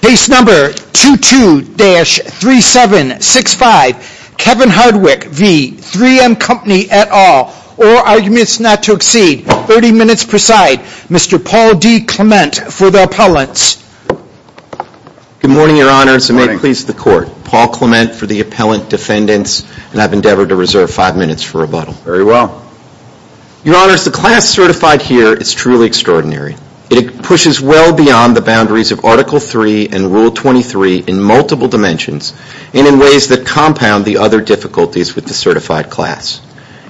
Case number 22-3765, Kevin Hardwick v. 3M Company et al. All arguments not to exceed 30 minutes per side. Mr. Paul D. Clement for the appellants. Good morning, your honors, and may it please the court. Paul Clement for the appellant defendants, and I've endeavored to reserve five minutes for rebuttal. Very well. Your honors, the class certified here is truly extraordinary. It pushes well beyond the boundaries of Article III and Rule 23 in multiple dimensions and in ways that compound the other difficulties with the certified class.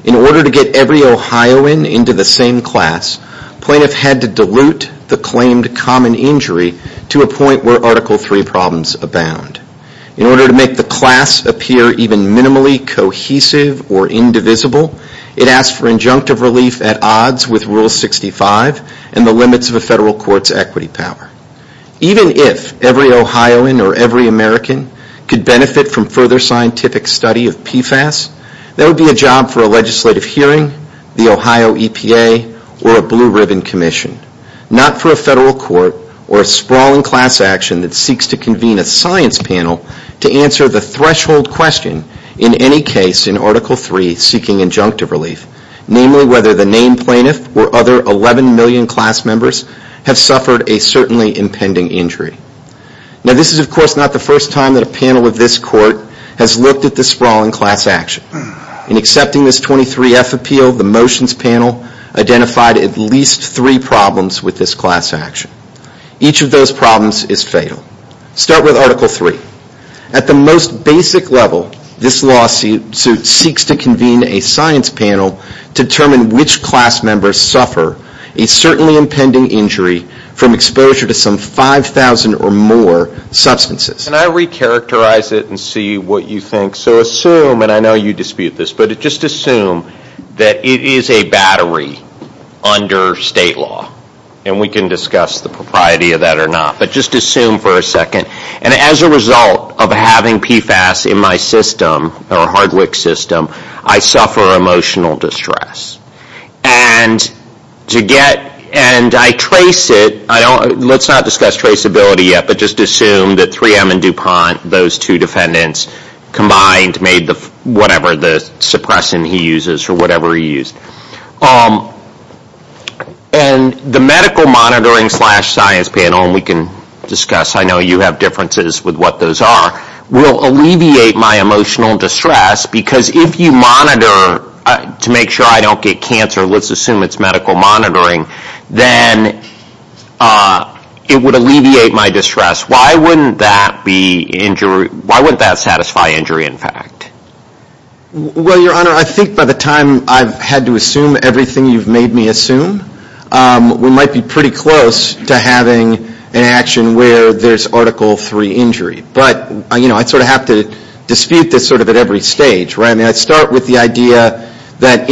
In order to get every Ohioan into the same class, plaintiff had to dilute the claimed common injury to a point where Article III problems abound. In order to make the class appear even minimally cohesive or indivisible, it asked for injunctive relief at odds with Rule 65 and the limits of a federal court's equity power. Even if every Ohioan or every American could benefit from further scientific study of PFAS, that would be a job for a legislative hearing, the Ohio EPA, or a Blue Ribbon Commission. Not for a federal court or a sprawling class action that seeks to convene a science panel to answer the threshold question in any case in Article III seeking injunctive relief, namely whether the named plaintiff or other 11 million class members have suffered a certainly impending injury. Now this is of course not the first time that a panel of this court has looked at this sprawling class action. In accepting this 23F appeal, the motions panel identified at least three problems with this class action. Each of those problems is fatal. Start with Article III. At the most basic level, this lawsuit seeks to convene a science panel to determine which class members suffer a certainly impending injury from exposure to some 5,000 or more substances. Can I re-characterize it and see what you think? So assume, and I know you dispute this, but just assume that it is a battery under state law, and we can discuss the propriety of that or not, but just assume for a second. And as a result of having PFAS in my system, or hard wick system, I suffer emotional distress. And to get, and I trace it, let's not discuss traceability yet, but just assume that 3M and DuPont, those two defendants combined made whatever the suppressant he uses or whatever he used. And the medical monitoring slash science panel, and we can discuss, I know you have differences with what those are, will alleviate my emotional distress because if you monitor to make sure I don't get cancer, let's assume it's medical monitoring, then it would alleviate my distress. Why wouldn't that be injury, why wouldn't that satisfy injury in fact? Well, your honor, I think by the time I've had to assume everything you've made me assume, we might be pretty close to having an action where there's Article III injury. But I sort of have to dispute this sort of at every stage, right? I mean, I'd start with the idea that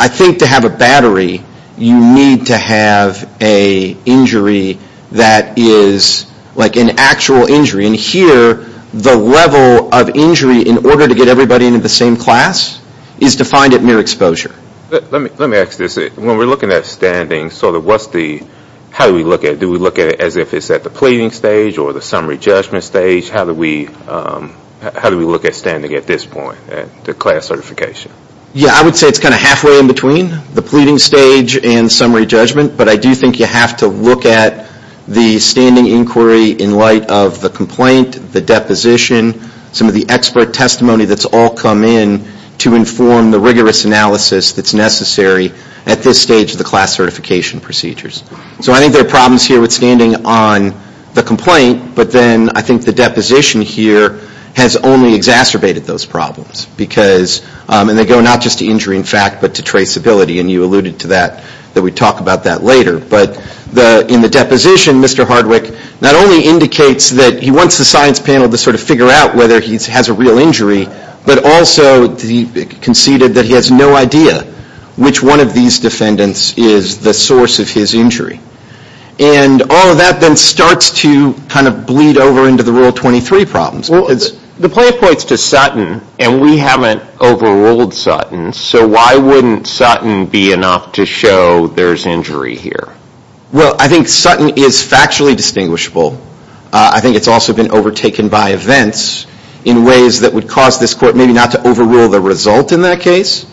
I think to have a battery, you need to have a injury that is like an actual injury. And here, the level of injury in order to get everybody into the same class is defined at mere exposure. Let me ask this, when we're looking at standing, sort of what's the, how do we look at it? Do we look at it as if it's at the pleading stage or the summary judgment stage? How do we look at standing at this point, at the class certification? Yeah, I would say it's kind of halfway in between the pleading stage and summary judgment. But I do think you have to look at the standing inquiry in light of the complaint, the deposition, some of the expert testimony that's all come in to inform the rigorous analysis that's necessary at this stage of the class certification procedures. So I think there are problems here with standing on the complaint, but then I think the deposition here has only exacerbated those problems. Because, and they go not just to injury in fact, but to traceability. And you alluded to that, that we talk about that later. But in the deposition, Mr. Hardwick not only indicates that he wants the science panel to sort of figure out whether he has a real injury, but also conceded that he has no idea which one of these defendants is the source of his injury. And all of that then starts to kind of bleed over into the Rule 23 problems. The play points to Sutton, and we haven't overruled Sutton. So why wouldn't Sutton be enough to show there's injury here? Well, I think Sutton is factually distinguishable. I think it's also been overtaken by events in ways that would cause this court maybe not to overrule the result in that case,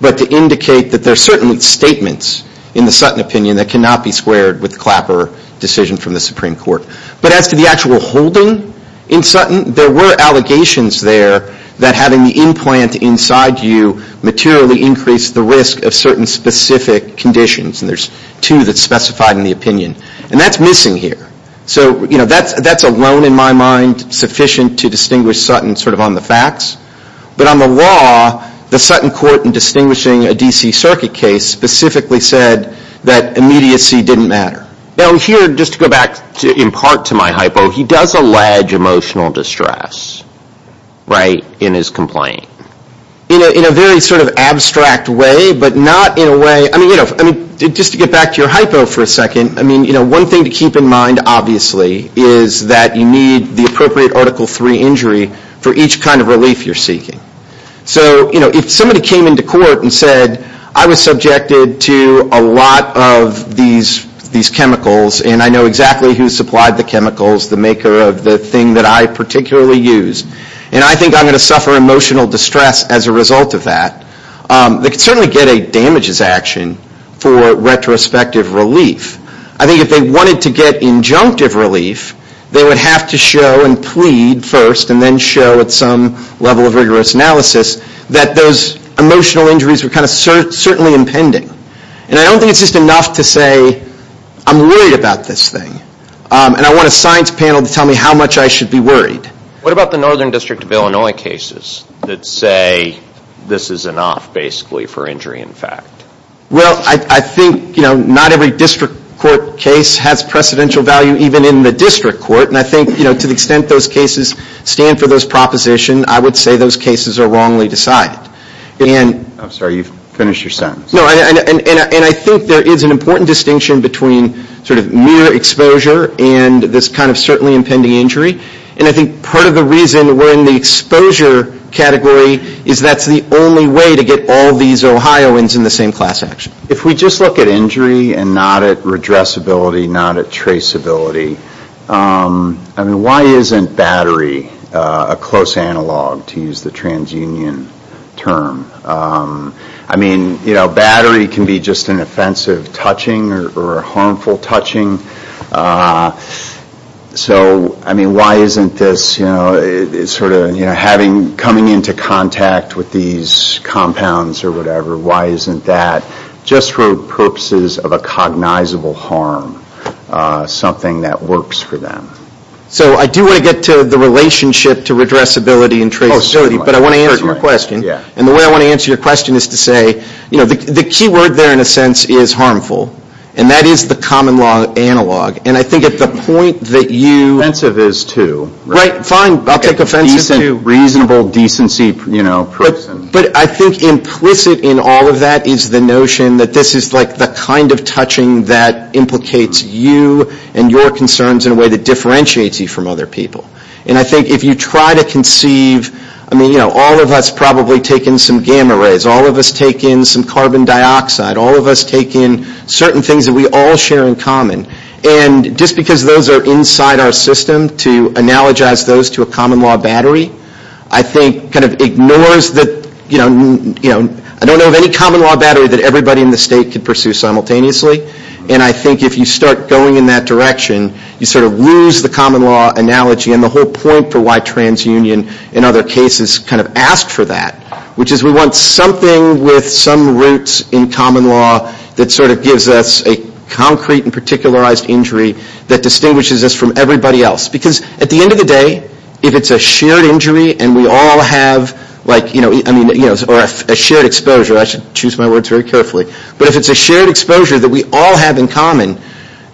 but to indicate that there are certain statements in the Sutton opinion that cannot be squared with the Clapper decision from the Supreme Court. But as to the actual holding in Sutton, there were allegations there that having the implant inside you materially increased the risk of certain specific conditions. And there's two that's specified in the opinion. And that's missing here. So, you know, that's alone in my mind sufficient to distinguish Sutton sort of on the facts. But on the law, the Sutton court in distinguishing a D.C. Circuit case specifically said that immediacy didn't matter. Now here, just to go back in part to my hypo, he does allege emotional distress, right, in his complaint, in a very sort of abstract way, but not in a way, I mean, you know, just to get back to your hypo for a second, I mean, you know, one thing to keep in mind, obviously, is that you need the appropriate Article III injury for each kind of relief you're seeking. So, you know, if somebody came into court and said, I was subjected to a lot of these chemicals, and I know exactly who supplied the chemicals, the maker of the thing that I particularly use, and I think I'm going to suffer emotional distress as a result of that, they could certainly get a damages action for retrospective relief. I think if they wanted to get injunctive relief, they would have to show and plead first and then show at some level of rigorous analysis that those emotional injuries were kind of certainly impending. And I don't think it's just enough to say, I'm worried about this thing, and I want a science panel to tell me how much I should be worried. What about the Northern District of Illinois cases that say, this is enough basically for injury in fact? Well, I think, you know, not every district court case has precedential value even in the district court, and I think, you know, to the extent those cases stand for those propositions, I would say those cases are wrongly decided. I'm sorry, you've finished your sentence. No, and I think there is an important distinction between sort of mere exposure and this kind of certainly impending injury. And I think part of the reason we're in the exposure category is that's the only way to get all these Ohioans in the same class action. If we just look at injury and not at redressability, not at traceability, I mean, why isn't battery a close analog to use the transunion term? I mean, you know, battery can be just an offensive touching or harmful touching. So, I mean, why isn't this, you know, sort of, you know, having, coming into contact with these compounds or whatever, why isn't that just for purposes of a cognizable harm something that works for them? So, I do want to get to the relationship to redressability and traceability, but I want to answer your question. And the way I want to answer your question is to say, you know, the key word there in a sense is harmful. And that is the common law analog. And I think at the point that you. Offensive is too. Right, fine, I'll take offensive. Reasonable decency, you know, person. But I think implicit in all of that is the notion that this is like the kind of touching that implicates you and your concerns in a way that differentiates you from other people. And I think if you try to conceive, I mean, you know, all of us probably take in some gamma rays. All of us take in some carbon dioxide. All of us take in certain things that we all share in common. And just because those are inside our system to analogize those to a common law battery, I think kind of ignores the, you know, you know, I don't know of any common law battery that everybody in the state could pursue simultaneously. And I think if you start going in that direction, you sort of lose the common law analogy and the whole point for why TransUnion in other cases kind of asked for that. Which is we want something with some roots in common law that sort of gives us a concrete and particularized injury that distinguishes us from everybody else. Because at the end of the day, if it's a shared injury and we all have like, you know, I mean, you know, or a shared exposure. I should choose my words very carefully. But if it's a shared exposure that we all have in common,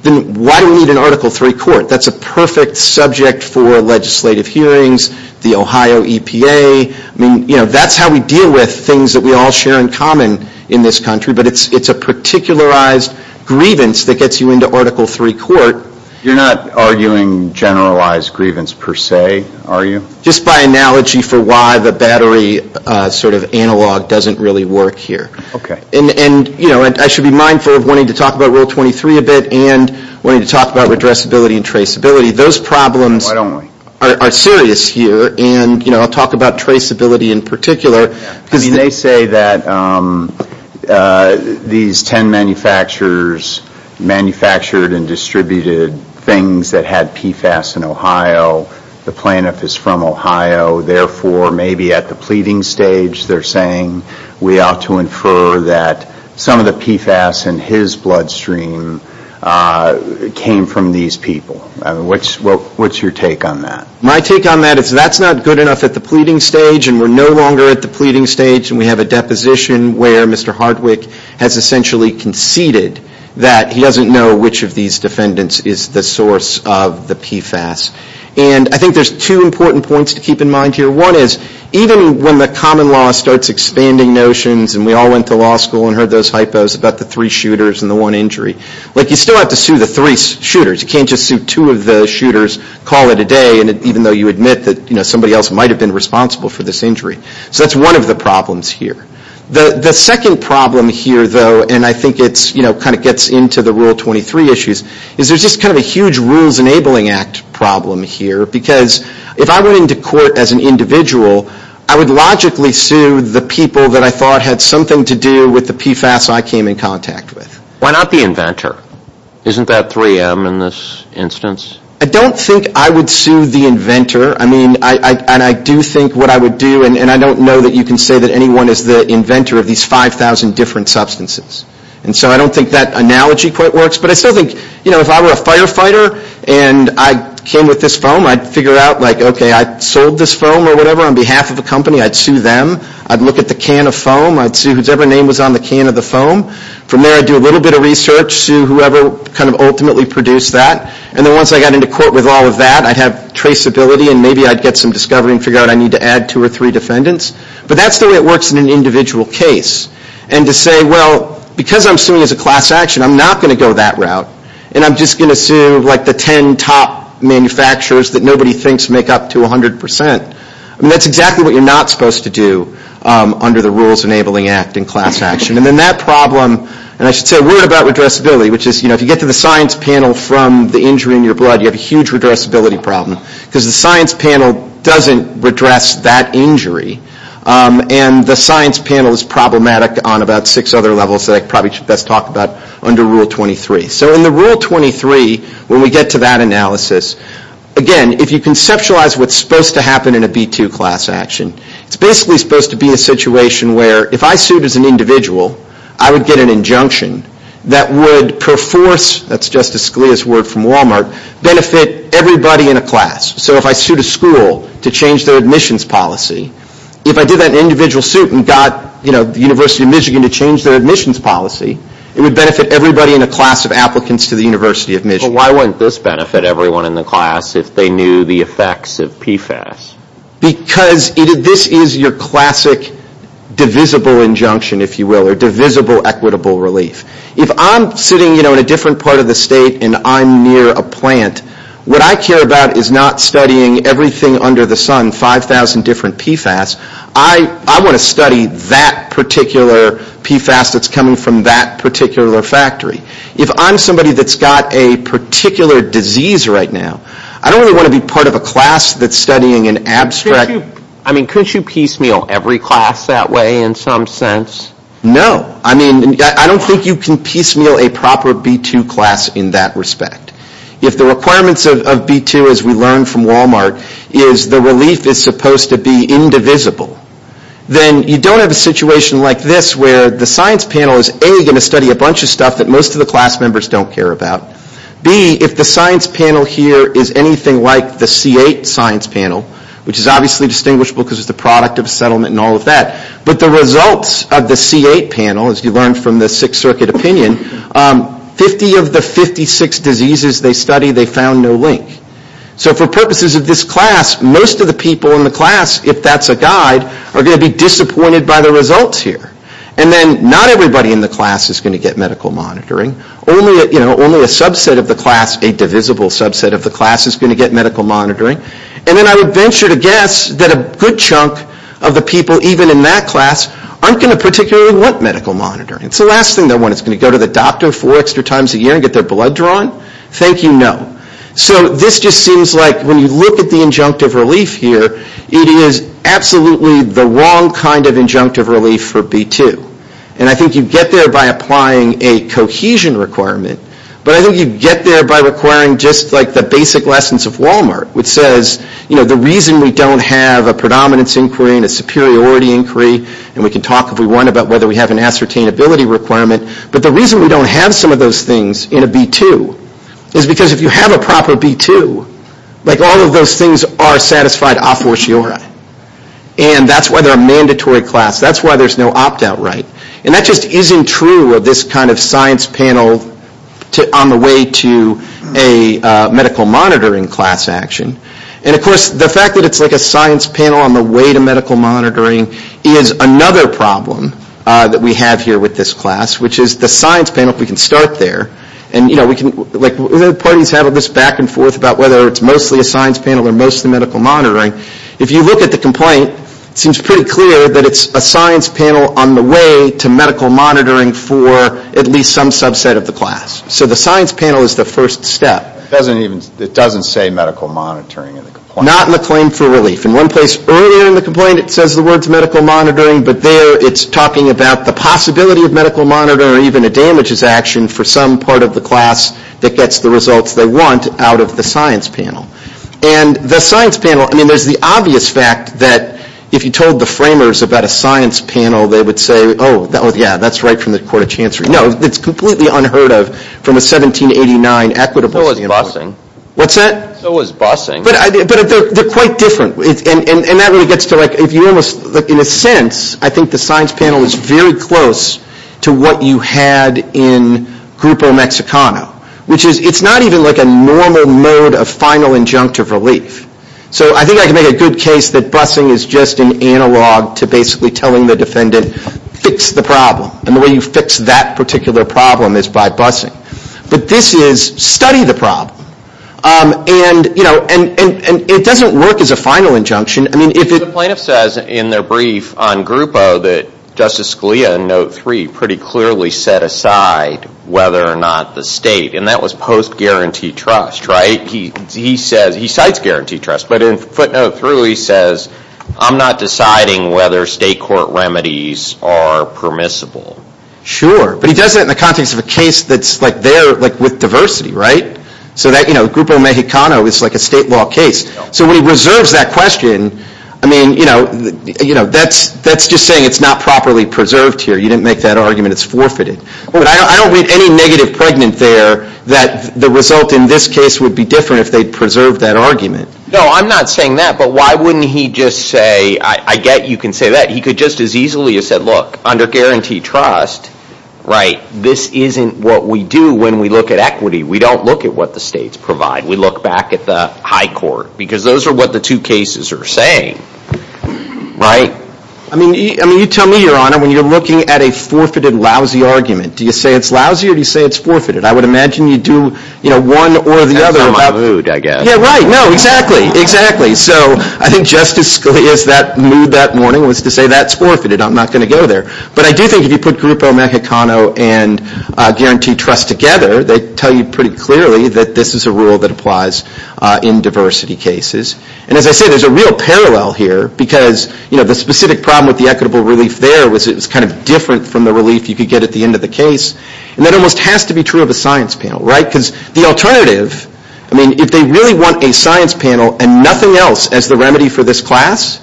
then why do we need an Article III court? That's a perfect subject for legislative hearings, the Ohio EPA. I mean, you know, that's how we deal with things that we all share in common in this country. But it's a particularized grievance that gets you into Article III court. You're not arguing generalized grievance per se, are you? Just by analogy for why the battery sort of analog doesn't really work here. Okay. And, you know, I should be mindful of wanting to talk about Rule 23 a bit and wanting to talk about redressability and traceability. Those problems are serious here and, you know, I'll talk about traceability in particular. Because they say that these 10 manufacturers manufactured and distributed things that had PFAS in Ohio, the plaintiff is from Ohio. Therefore, maybe at the pleading stage they're saying we ought to infer that some of the PFAS in his bloodstream came from these people. I mean, what's your take on that? My take on that is that's not good enough at the pleading stage and we're no longer at the pleading stage and we have a deposition where Mr. Hardwick has essentially conceded that he doesn't know which of these defendants is the source of the PFAS. And I think there's two important points to keep in mind here. One is even when the common law starts expanding notions and we all went to law school and heard those hypos about the three shooters and the one injury. Like, you still have to sue the three shooters. You can't just sue two of the shooters, call it a day, even though you admit that, you know, somebody else might have been responsible for this injury. So that's one of the problems here. The second problem here, though, and I think it's, you know, kind of gets into the Rule 23 issues, is there's just kind of a huge rules enabling act problem here. Because if I went into court as an individual, I would logically sue the people that I thought had something to do with the PFAS I came in contact with. Why not the inventor? Isn't that 3M in this instance? I don't think I would sue the inventor. I mean, and I do think what I would do, and I don't know that you can say that anyone is the inventor of these 5,000 different substances. And so I don't think that analogy quite works. But I still think, you know, if I were a firefighter and I came with this foam, I'd figure out, like, okay, I sold this foam or whatever on behalf of a company, I'd sue them. I'd look at the can of foam. I'd sue whosever name was on the can of the foam. From there, I'd do a little bit of research, sue whoever kind of ultimately produced that. And then once I got into court with all of that, I'd have traceability and maybe I'd get some discovery and figure out I need to add two or three defendants. But that's the way it works in an individual case. And to say, well, because I'm suing as a class action, I'm not going to go that route. And I'm just going to sue, like, the 10 top manufacturers that nobody thinks make up to 100%. That's exactly what you're not supposed to do under the Rules Enabling Act in class action. And then that problem, and I should say a word about redressability, which is, you know, if you get to the science panel from the injury in your blood, you have a huge redressability problem. Because the science panel doesn't redress that injury. And the science panel is problematic on about six other levels that I probably should best talk about under Rule 23. So in the Rule 23, when we get to that analysis, again, if you conceptualize what's supposed to happen in a B2 class action, it's basically supposed to be a situation where if I sued as an individual, I would get an injunction that would perforce, that's Justice Scalia's word from Walmart, benefit everybody in a class. So if I sued a school to change their admissions policy, if I did that in an individual suit and got, you know, the University of Michigan to change their admissions policy, it would benefit everybody in a class of applicants to the University of Michigan. But why wouldn't this benefit everyone in the class if they knew the effects of PFAS? Because this is your classic divisible injunction, if you will, or divisible equitable relief. If I'm sitting, you know, in a different part of the state and I'm near a plant, what I care about is not studying everything under the sun, 5,000 different PFAS. I want to study that particular PFAS that's coming from that particular factory. If I'm somebody that's got a particular disease right now, I don't really want to be part of a class that's studying an abstract. I mean, couldn't you piecemeal every class that way in some sense? No. I mean, I don't think you can piecemeal a proper B2 class in that respect. If the requirements of B2, as we learned from Walmart, is the relief is supposed to be indivisible, then you don't have a situation like this where the science panel is A, going to study a bunch of stuff that most of the class members don't care about. B, if the science panel here is anything like the C8 science panel, which is obviously distinguishable because it's the product of a settlement and all of that, but the results of the C8 panel, as you learned from the Sixth Circuit opinion, 50 of the 56 diseases they studied, they found no link. So for purposes of this class, most of the people in the class, if that's a guide, are going to be disappointed by the results here. And then not everybody in the class is going to get medical monitoring. Only a subset of the class, a divisible subset of the class, is going to get medical monitoring. And then I would venture to guess that a good chunk of the people even in that class aren't going to particularly want medical monitoring. It's the last thing they want. It's going to go to the doctor four extra times a year and get their blood drawn? Thank you, no. So this just seems like when you look at the injunctive relief here, it is absolutely the wrong kind of injunctive relief for B2. And I think you get there by applying a cohesion requirement, but I think you get there by requiring just like the basic lessons of Walmart, which says, you know, the reason we don't have a predominance inquiry and a superiority inquiry, and we can talk if we want about whether we have an ascertainability requirement, but the reason we don't have some of those things in a B2 is because if you have a proper B2, like all of those things are satisfied a fortiori. And that's why they're a mandatory class. That's why there's no opt-out right. And that just isn't true of this kind of science panel on the way to a medical monitoring class action. And of course, the fact that it's like a science panel on the way to medical monitoring is another problem that we have here with this class, which is the science panel, if we can start there. And, you know, we can, like the parties have this back and forth about whether it's mostly a science panel or mostly medical monitoring. If you look at the complaint, it seems pretty clear that it's a science panel on the way to medical monitoring for at least some subset of the class. So the science panel is the first step. It doesn't say medical monitoring in the complaint. Not in the claim for relief. In one place earlier in the complaint, it says the words medical monitoring, but there it's talking about the possibility of medical monitoring or even a damages action for some part of the class that gets the results they want out of the science panel. And the science panel, I mean, there's the obvious fact that if you told the framers about a science panel, they would say, oh, yeah, that's right from the court of chancery. No, it's completely unheard of from a 1789 equitability. What's that? But they're quite different. And that really gets to, like, if you almost, in a sense, I think the science panel is very close to what you had in Grupo Mexicano, which is it's not even, like, a normal mode of final injunctive relief. So I think I can make a good case that busing is just an analog to basically telling the defendant, fix the problem. And the way you fix that particular problem is by busing. But this is study the problem. And, you know, and it doesn't work as a final injunction. I mean, if it. The plaintiff says in their brief on Grupo that Justice Scalia in note three pretty clearly set aside whether or not the state. And that was post-guaranteed trust, right? He says, he cites guaranteed trust. But in footnote three he says, I'm not deciding whether state court remedies are permissible. Sure. But he does that in the context of a case that's, like, there, like, with diversity, right? So that, you know, Grupo Mexicano is like a state law case. So when he reserves that question, I mean, you know, that's just saying it's not properly preserved here. You didn't make that argument. It's forfeited. But I don't read any negative pregnant there that the result in this case would be different if they preserved that argument. No, I'm not saying that. But why wouldn't he just say, I get you can say that. He could just as easily have said, look, under guaranteed trust, right, this isn't what we do when we look at equity. We don't look at what the states provide. We look back at the high court. Because those are what the two cases are saying, right? I mean, you tell me, Your Honor, when you're looking at a forfeited, lousy argument, do you say it's lousy or do you say it's forfeited? I would imagine you do, you know, one or the other. That's not my mood, I guess. Yeah, right. No, exactly. Exactly. So I think Justice Scalia's mood that morning was to say that's forfeited. I'm not going to go there. But I do think if you put Grupo Mexicano and guaranteed trust together, they tell you pretty clearly that this is a rule that applies in diversity cases. And as I said, there's a real parallel here because, you know, the specific problem with the equitable relief there was it was kind of different from the relief you could get at the end of the case. And that almost has to be true of the science panel, right? Because the alternative, I mean, if they really want a science panel and nothing else as the remedy for this class,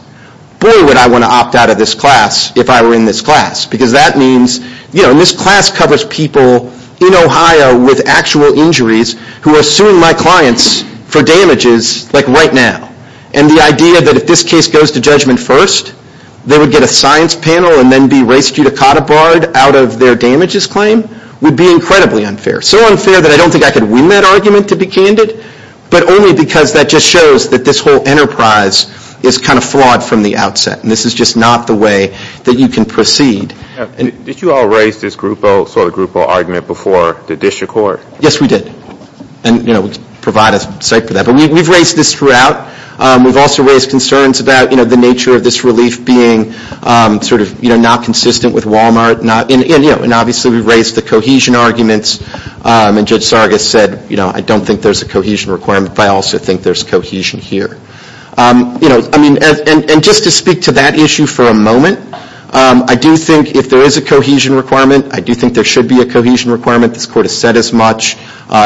boy, would I want to opt out of this class if I were in this class. Because that means, you know, and this class covers people in Ohio with actual injuries who are suing my clients for damages like right now. And the idea that if this case goes to judgment first, they would get a science panel and then be raced to the cottage board out of their damages claim would be incredibly unfair. So unfair that I don't think I could win that argument to be candid, but only because that just shows that this whole enterprise is kind of flawed from the outset. And this is just not the way that you can proceed. Did you all raise this sort of group O argument before the district court? Yes, we did. And, you know, provide a site for that. But we've raised this throughout. We've also raised concerns about, you know, the nature of this relief being sort of, you know, not consistent with Wal-Mart and, you know, and obviously we've raised the cohesion arguments. And Judge Sargas said, you know, I don't think there's a cohesion requirement, but I also think there's cohesion here. You know, I mean, and just to speak to that issue for a moment, I do think if there is a cohesion requirement, I do think there should be a cohesion requirement. This Court has said as much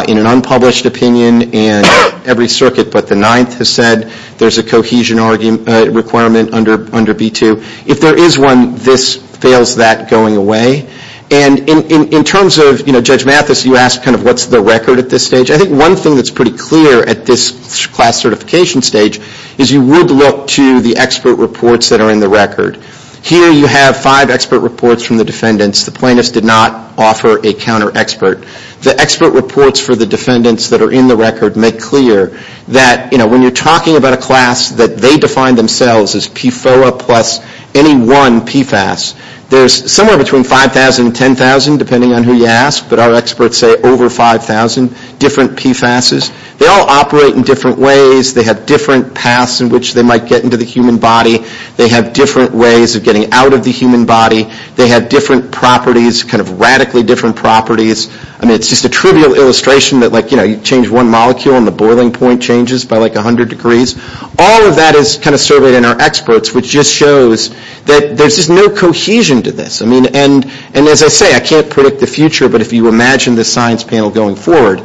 in an unpublished opinion in every circuit, but the Ninth has said there's a cohesion requirement under B-2. If there is one, this fails that going away. And in terms of, you know, Judge Mathis, you asked kind of what's the record at this stage. I think one thing that's pretty clear at this class certification stage is you would look to the expert reports that are in the record. Here you have five expert reports from the defendants. The plaintiffs did not offer a counter-expert. The expert reports for the defendants that are in the record make clear that, you know, when you're talking about a class that they define themselves as PFOA plus any one PFAS, there's somewhere between 5,000 and 10,000, depending on who you ask. But our experts say over 5,000 different PFASs. They all operate in different ways. They have different paths in which they might get into the human body. They have different ways of getting out of the human body. They have different properties, kind of radically different properties. I mean, it's just a trivial illustration that, like, you know, you change one molecule and the boiling point changes by like 100 degrees. All of that is kind of surveyed in our experts, which just shows that there's just no cohesion to this. I mean, and as I say, I can't predict the future, but if you imagine the science panel going forward,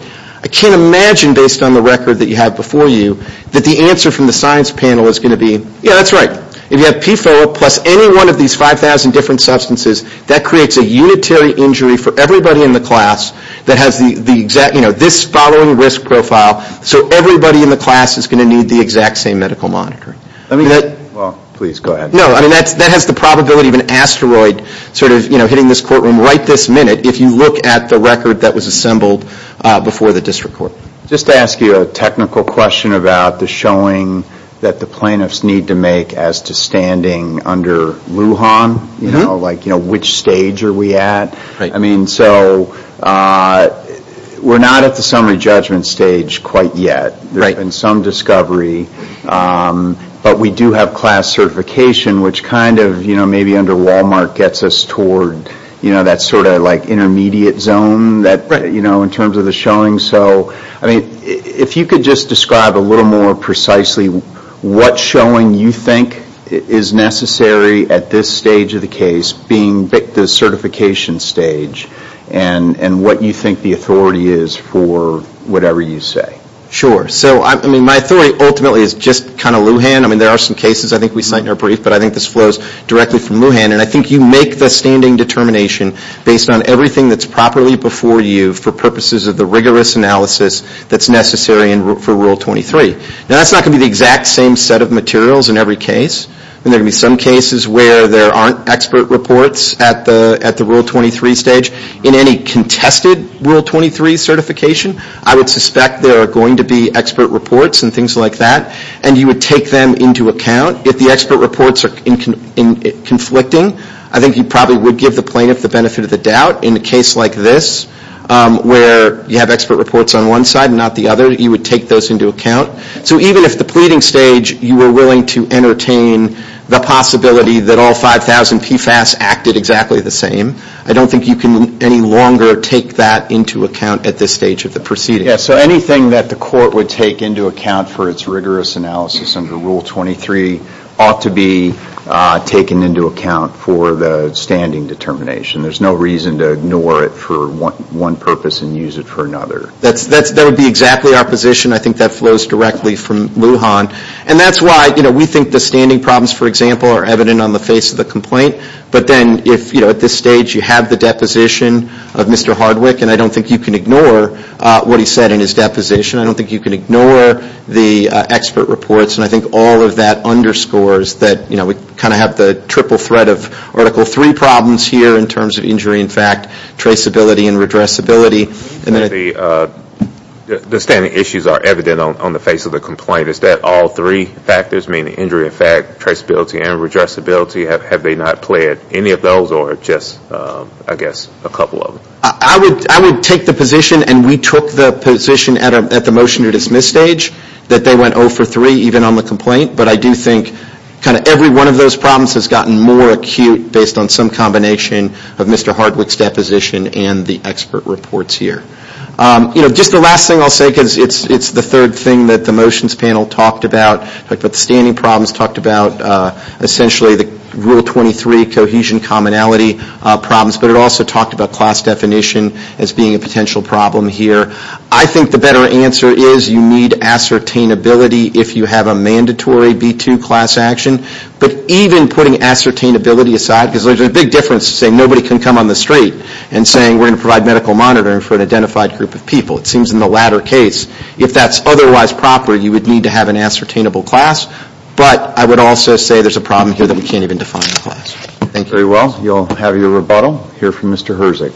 I can't imagine, based on the record that you have before you, that the answer from the science panel is going to be, yeah, that's right. If you have PFOA plus any one of these 5,000 different substances, that creates a unitary injury for everybody in the class that has the exact, you know, this following risk profile. So everybody in the class is going to need the exact same medical monitor. Let me get, well, please go ahead. No, I mean, that has the probability of an asteroid sort of, you know, hitting this courtroom right this minute if you look at the record that was assembled before the district court. Just to ask you a technical question about the showing that the plaintiffs need to make as to standing under Lujan, you know, like, you know, which stage are we at? I mean, so we're not at the summary judgment stage quite yet. There's been some discovery, but we do have class certification, which kind of, you know, maybe under Walmart gets us toward, you know, that sort of like intermediate zone that, you know, in terms of the showing. So, I mean, if you could just describe a little more precisely what showing you think is necessary at this stage of the case being the certification stage and what you think the authority is for whatever you say. Sure. So, I mean, my theory ultimately is just kind of Lujan. I mean, there are some cases I think we cite in our brief, but I think this flows directly from Lujan. And I think you make the standing determination based on everything that's properly before you for purposes of the rigorous analysis that's necessary for Rule 23. Now, that's not going to be the exact same set of materials in every case. I mean, there are going to be some cases where there aren't expert reports at the Rule 23 stage. In any contested Rule 23 certification, I would suspect there are going to be expert reports and things like that, and you would take them into account. If the expert reports are conflicting, I think you probably would give the plaintiff the benefit of the doubt in a case like this where you have expert reports on one side, not the other. You would take those into account. So, even if the pleading stage, you were willing to entertain the possibility that all 5,000 PFAS acted exactly the same. I don't think you can any longer take that into account at this stage of the proceeding. Yes, so anything that the court would take into account for its rigorous analysis under Rule 23 ought to be taken into account for the standing determination. There's no reason to ignore it for one purpose and use it for another. That would be exactly our position. I think that flows directly from Lujan. And that's why, you know, we think the standing problems, for example, are evident on the face of the complaint. But then if, you know, at this stage you have the deposition of Mr. Hardwick, and I don't think you can ignore what he said in his deposition. I don't think you can ignore the expert reports. And I think all of that underscores that, you know, we kind of have the triple threat of Article 3 problems here in terms of injury and fact, traceability and redressability. And then the standing issues are evident on the face of the complaint. Is that all three factors, meaning injury and fact, traceability and redressability? Have they not played any of those or just, I guess, a couple of them? I would take the position, and we took the position at the motion to dismiss stage, that they went 0 for 3 even on the complaint. But I do think kind of every one of those problems has gotten more acute based on some combination of Mr. Hardwick's deposition and the expert reports here. You know, just the last thing I'll say, because it's the third thing that the motions panel talked about. But the standing problems talked about essentially the Rule 23 cohesion commonality problems. But it also talked about class definition as being a potential problem here. I think the better answer is you need ascertainability if you have a mandatory B2 class action. But even putting ascertainability aside, because there's a big difference to say nobody can come on the street and saying we're going to provide medical monitoring for an identified group of people. It seems in the latter case, if that's otherwise proper, you would need to have an ascertainable class. But I would also say there's a problem here that we can't even define in class. Thank you. Very well. You'll have your rebuttal. Hear from Mr. Herzig.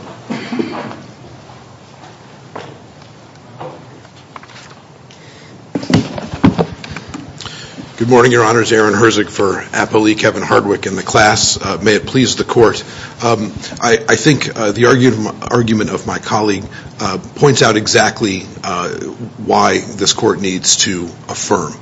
Good morning, Your Honors. Aaron Herzig for Apo Lee Kevin Hardwick and the class. May it please the Court. I think the argument of my colleague points out exactly why this Court needs to affirm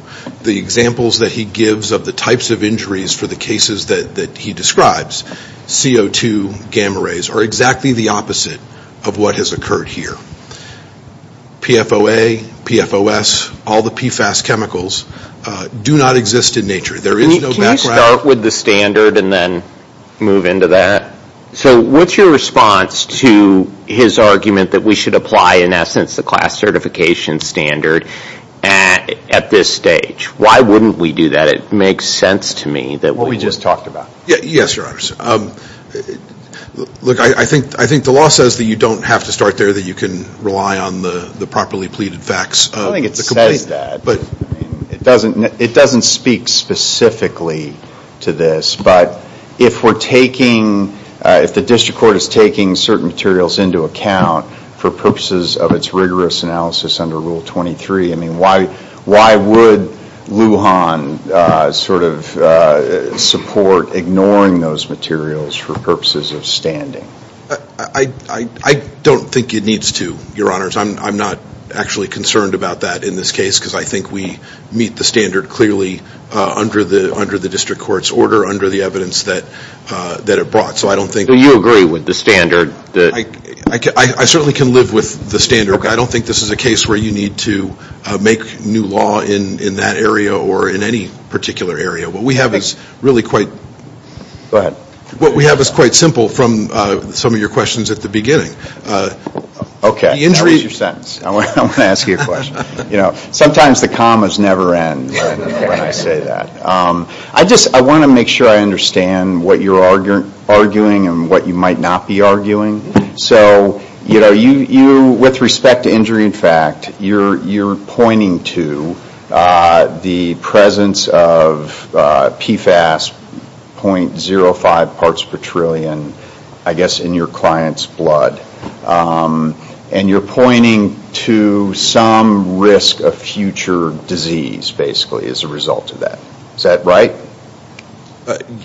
the examples that he gives of the types of injuries for the cases that he describes, CO2 gamma rays, are exactly the opposite of what has occurred here. PFOA, PFOS, all the PFAS chemicals do not exist in nature. There is no background. Can you start with the standard and then move into that? So what's your response to his argument that we should apply, in essence, the class certification standard at this stage? Why wouldn't we do that? It makes sense to me that we would. What we just talked about. Yes, Your Honors. Look, I think the law says that you don't have to start there, that you can rely on the properly pleaded facts. I don't think it says that. But it doesn't speak specifically to this. But if we're taking, if the District Court is taking certain materials into account for purposes of its rigorous analysis under Rule 23, I mean, why would Lujan sort of support ignoring those materials for purposes of standing? I don't think it needs to, Your Honors. I'm not actually concerned about that in this case, because I think we meet the standard clearly under the District Court's order, under the evidence that it brought. So I don't think... Do you agree with the standard? I certainly can live with the standard. I don't think this is a case where you need to make new law in that area or in any particular area. What we have is really quite... Go ahead. What we have is quite simple from some of your questions at the beginning. Okay. That was your sentence. I want to ask you a question. You know, sometimes the commas never end when I say that. I just, I want to make sure I understand what you're arguing and what you might not be arguing. So, you know, you, with respect to injury in fact, you're pointing to the presence of PFAS .05 parts per trillion, I guess, in your client's blood. And you're pointing to some risk of future disease, basically, as a result of that. Is that right?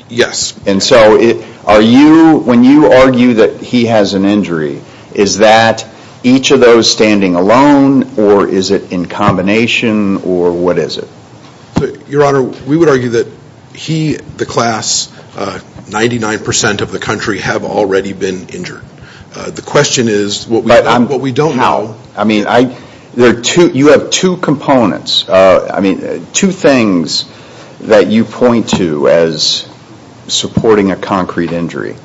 Yes. And so are you, when you argue that he has an injury, is that each of those standing alone or is it in combination or what is it? Your Honor, we would argue that he, the class, 99% of the country have already been injured. The question is what we don't know. I mean, you have two components. I mean, two things that you point to as... supporting a concrete injury.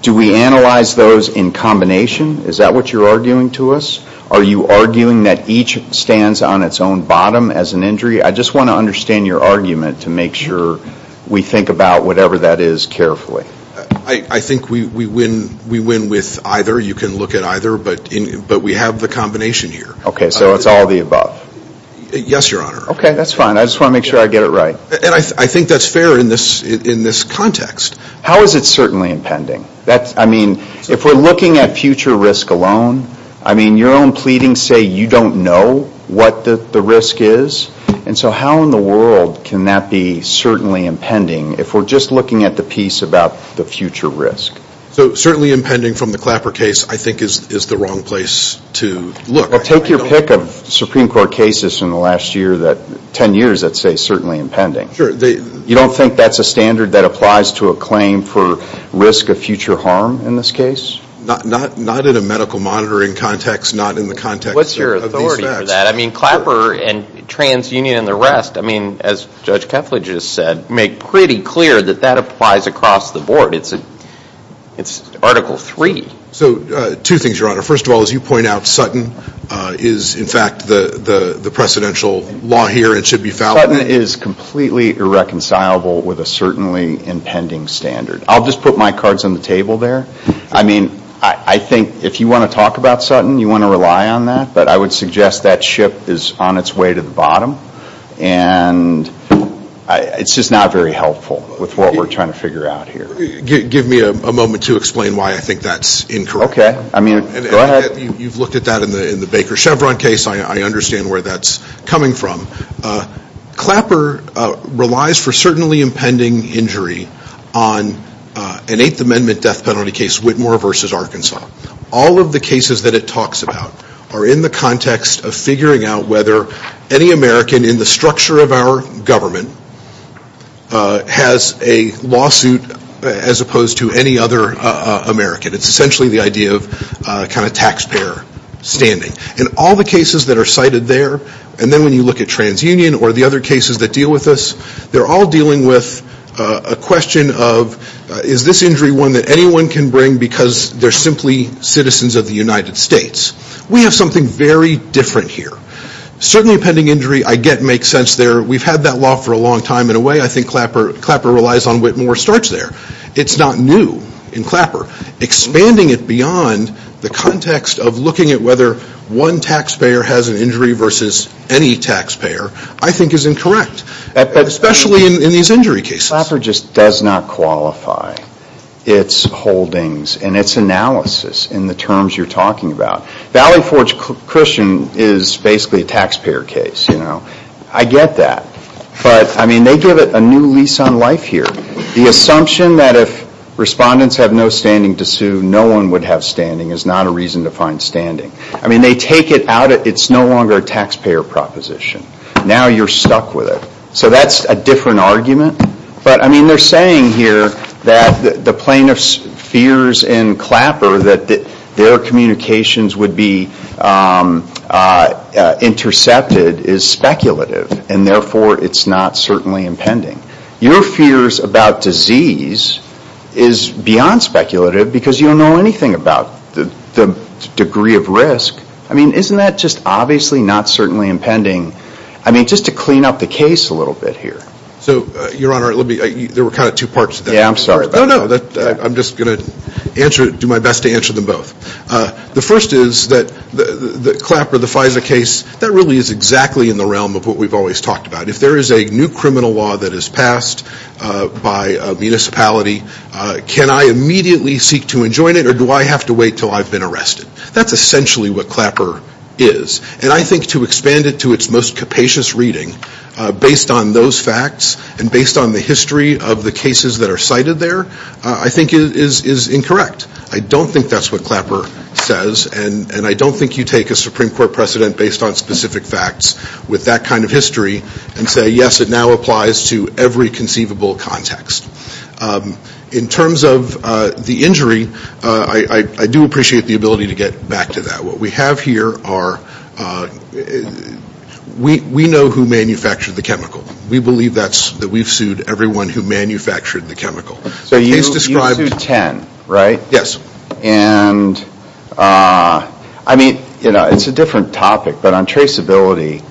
Do we analyze those in combination? Is that what you're arguing to us? Are you arguing that each stands on its own bottom as an injury? I just want to understand your argument to make sure we think about whatever that is carefully. I think we win with either. You can look at either, but we have the combination here. Okay, so it's all of the above? Yes, Your Honor. Okay, that's fine. I just want to make sure I get it right. And I think that's fair in this context. How is it certainly impending? That's, I mean, if we're looking at future risk alone, I mean, your own pleadings say you don't know what the risk is. And so how in the world can that be certainly impending if we're just looking at the piece about the future risk? So certainly impending from the Clapper case, I think, is the wrong place to look. Well, take your pick of Supreme Court cases in the last year that, ten years, I'd say certainly impending. You don't think that's a standard that applies to a claim for risk of future harm in this case? Not in a medical monitoring context, not in the context of these facts. What's your authority for that? I mean, Clapper and TransUnion and the rest, I mean, as Judge Kefla just said, make pretty clear that that applies across the board. It's Article III. So two things, Your Honor. First of all, as you point out, Sutton is, in fact, the precedential law here and should be valid. Sutton is completely irreconcilable with a certainly impending standard. I'll just put my cards on the table there. I mean, I think if you want to talk about Sutton, you want to rely on that. But I would suggest that ship is on its way to the bottom. And it's just not very helpful with what we're trying to figure out here. Give me a moment to explain why I think that's incorrect. Okay. I mean, go ahead. You've looked at that in the Baker Chevron case. I understand where that's coming from. Clapper relies for certainly impending injury on an Eighth Amendment death penalty case, Whitmore versus Arkansas. All of the cases that it talks about are in the context of figuring out whether any American in the structure of our government has a lawsuit as opposed to any other American. It's essentially the idea of kind of taxpayer standing. In all the cases that are cited there, and then when you look at TransUnion or the other cases that deal with us, they're all dealing with a question of is this injury one that anyone can bring because they're simply citizens of the United States. We have something very different here. Certainly impending injury I get makes sense there. We've had that law for a long time. In a way, I think Clapper relies on Whitmore starts there. It's not new in Clapper. Expanding it beyond the context of looking at whether one taxpayer has an injury versus any taxpayer I think is incorrect, especially in these injury cases. Clapper just does not qualify its holdings and its analysis in the terms you're talking about. Valley Forge Cushion is basically a taxpayer case, you know. I get that. But, I mean, they give it a new lease on life here. The assumption that if respondents have no standing to sue, no one would have standing is not a reason to find standing. I mean, they take it out. It's no longer a taxpayer proposition. Now you're stuck with it. So that's a different argument. But, I mean, they're saying here that the plaintiff's fears in Clapper that their communications would be intercepted is speculative. And, therefore, it's not certainly impending. Your fears about disease is beyond speculative because you don't know anything about the degree of risk. I mean, isn't that just obviously not certainly impending? I mean, just to clean up the case a little bit here. So, Your Honor, let me, there were kind of two parts to that. Yeah, I'm sorry. No, no, I'm just going to answer, do my best to answer them both. The first is that the Clapper, the FISA case, that really is exactly in the realm of what we've always talked about. If there is a new criminal law that is passed by a municipality, can I immediately seek to enjoin it or do I have to wait until I've been arrested? That's essentially what Clapper is. And I think to expand it to its most capacious reading based on those facts and based on the history of the cases that are cited there, I think is incorrect. I don't think that's what Clapper says. And I don't think you take a Supreme Court precedent based on specific facts with that kind of history and say, yes, it now applies to every conceivable context. In terms of the injury, I do appreciate the ability to get back to that. What we have here are, we know who manufactured the chemical. We believe that's, that we've sued everyone who manufactured the chemical. So you sued 10, right? Yes. And I mean, you know, it's a different topic. But on traceability,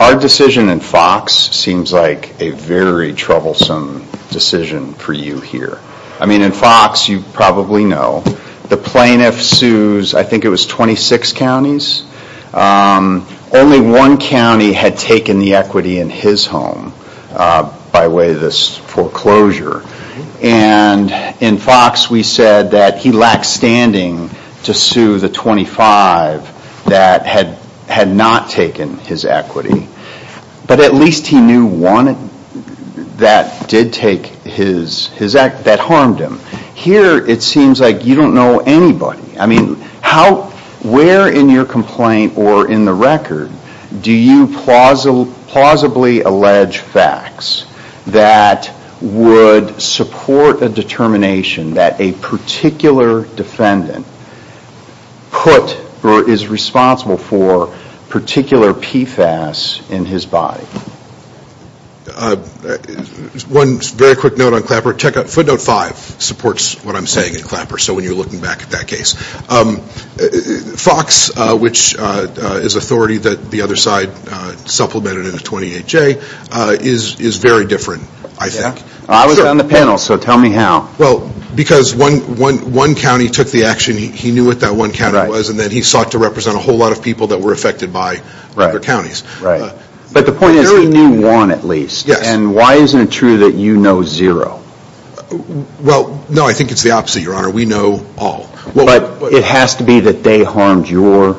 our decision in Fox seems like a very troublesome decision for you here. I mean, in Fox, you probably know, the plaintiff sues, I think it was 26 counties. Only one county had taken the equity in his home by way of this foreclosure. And in Fox, we said that he lacked standing to sue the 25 that had not taken his equity. But at least he knew one that did take his, that harmed him. Here, it seems like you don't know anybody. I mean, how, where in your complaint or in the record do you plausibly allege facts that would support a determination that a particular defendant put, or is responsible for, particular PFAS in his body? One very quick note on Clapper. Check out footnote 5 supports what I'm saying in Clapper. So when you're looking back at that case, Fox, which is authority that the other side supplemented in the 28J, is very different, I think. I was on the panel, so tell me how. Well, because one county took the action, he knew what that one county was, and then he sought to represent a whole lot of people that were affected by other counties. Right. But the point is, he knew one at least. Yes. And why isn't it true that you know zero? Well, no, I think it's the opposite, Your Honor. We know all. But it has to be that they harmed your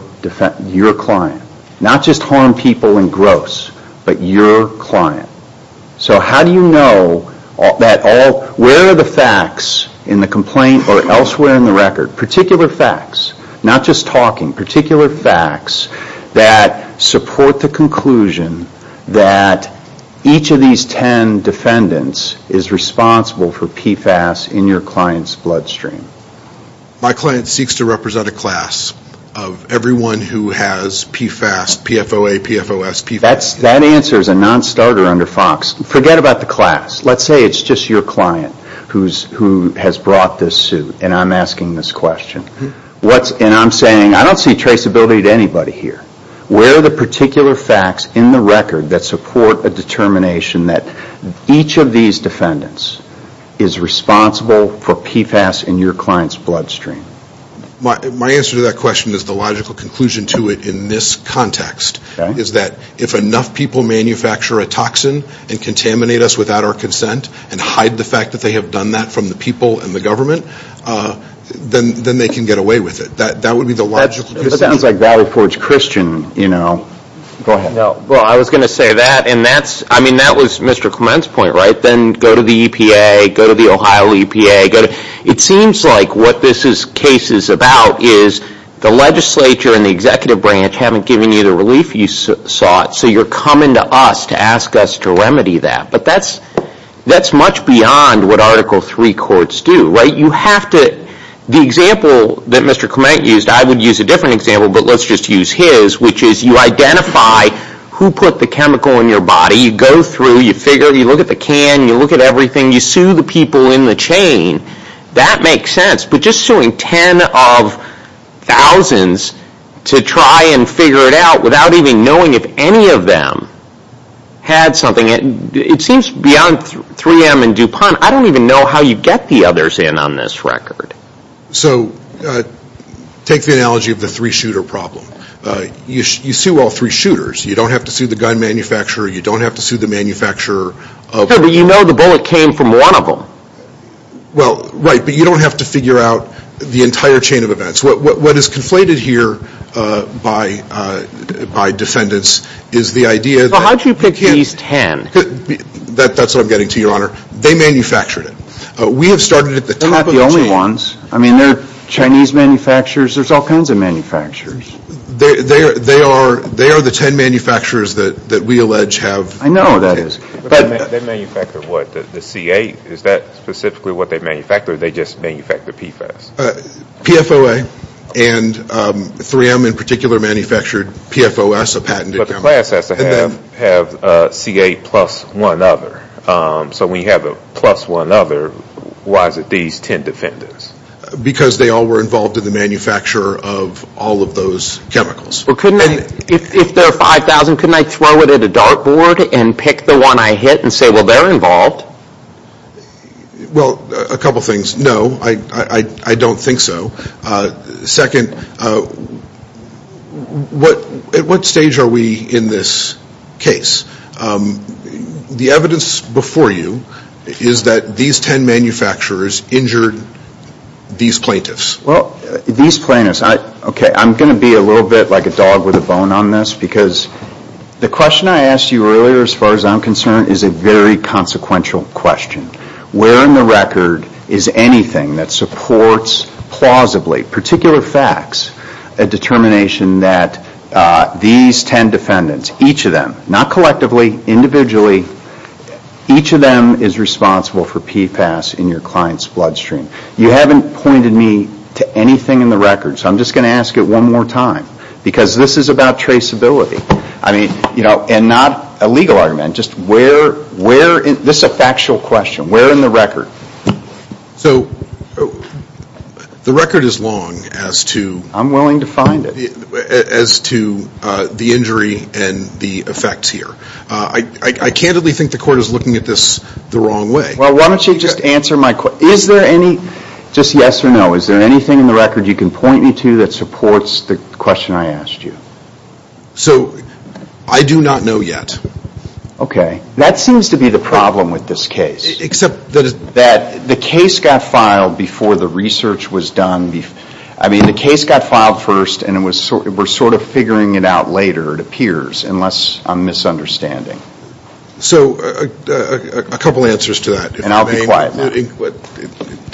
client. Not just harmed people in gross, but your client. So how do you know that all, where are the facts in the complaint or elsewhere in the record, particular facts, not just talking, particular facts that support the conclusion that each of these ten defendants is responsible for PFAS in your client's bloodstream? My client seeks to represent a class of everyone who has PFAS, PFOA, PFOS, PFAS. That answer is a non-starter under Fox. Forget about the class. Let's say it's just your client who has brought this suit, and I'm asking this question. What's, and I'm saying, I don't see traceability to anybody here. Where are the particular facts in the record that support a determination that each of these defendants is responsible for PFAS in your client's bloodstream? My answer to that question is the logical conclusion to it in this context. Is that if enough people manufacture a toxin and contaminate us without our consent and hide the fact that they have done that from the people and the government, then they can get away with it. That would be the logical conclusion. That sounds like Valley Forge Christian, you know. Go ahead. No. Well, I was going to say that. I mean, that was Mr. Clement's point, right? Then go to the EPA, go to the Ohio EPA, go to, it seems like what this case is about is the legislature and the executive branch haven't given you the relief you sought, so you're coming to us to ask us to remedy that. But that's much beyond what Article III courts do, right? You have to, the example that Mr. Clement used, I would use a different example, but let's just use his, which is you identify who put the chemical in your body, you go through, you figure, you look at the can, you look at everything, you sue the people in the chain. That makes sense. But just suing ten of thousands to try and figure it out without even knowing if any of them had something, it seems beyond 3M and DuPont, I don't even know how you get the others in on this record. So take the analogy of the three shooter problem. You sue all three shooters. You don't have to sue the gun manufacturer. You don't have to sue the manufacturer. Okay, but you know the bullet came from one of them. Well, right, but you don't have to figure out the entire chain of events. What is conflated here by defendants is the idea that. Well, how did you pick at least ten? That's what I'm getting to, Your Honor. They manufactured it. We have started at the top of the chain. They're not the only ones. I mean, there are Chinese manufacturers. There's all kinds of manufacturers. They are the ten manufacturers that we allege have. I know that is. But they manufacture what, the C8? Is that specifically what they manufacture or they just manufacture PFAS? PFOA and 3M in particular manufactured PFOS, a patented chemical. But the class has to have C8 plus one other. So we have a plus one other. Why is it these ten defendants? Because they all were involved in the manufacture of all of those chemicals. Well, couldn't they, if they're 5,000, couldn't they throw it at a dart board and pick the one I hit and say, well, they're involved? Well, a couple things. No, I don't think so. Second, at what stage are we in this case? The evidence before you is that these ten manufacturers injured these plaintiffs. Well, these plaintiffs, okay, I'm going to be a little bit like a dog with a bone on this because the question I asked you earlier, as far as I'm concerned, is a very consequential question. Where in the record is anything that supports plausibly, particular facts, a determination that these ten defendants, each of them, not collectively, individually, each of them is responsible for PFAS in your client's bloodstream? You haven't pointed me to anything in the record, so I'm just going to ask it one more time, because this is about traceability. I mean, and not a legal argument, just where, this is a factual question. Where in the record? So, the record is long as to- I'm willing to find it. As to the injury and the effects here. I candidly think the court is looking at this the wrong way. Well, why don't you just answer my question. Is there any, just yes or no, is there anything in the record you can point me to that supports the question I asked you? So, I do not know yet. Okay, that seems to be the problem with this case. Except that it's- That the case got filed before the research was done. I mean, the case got filed first, and we're sort of figuring it out later, it appears, unless I'm misunderstanding. So, a couple answers to that. And I'll be quiet, Matt.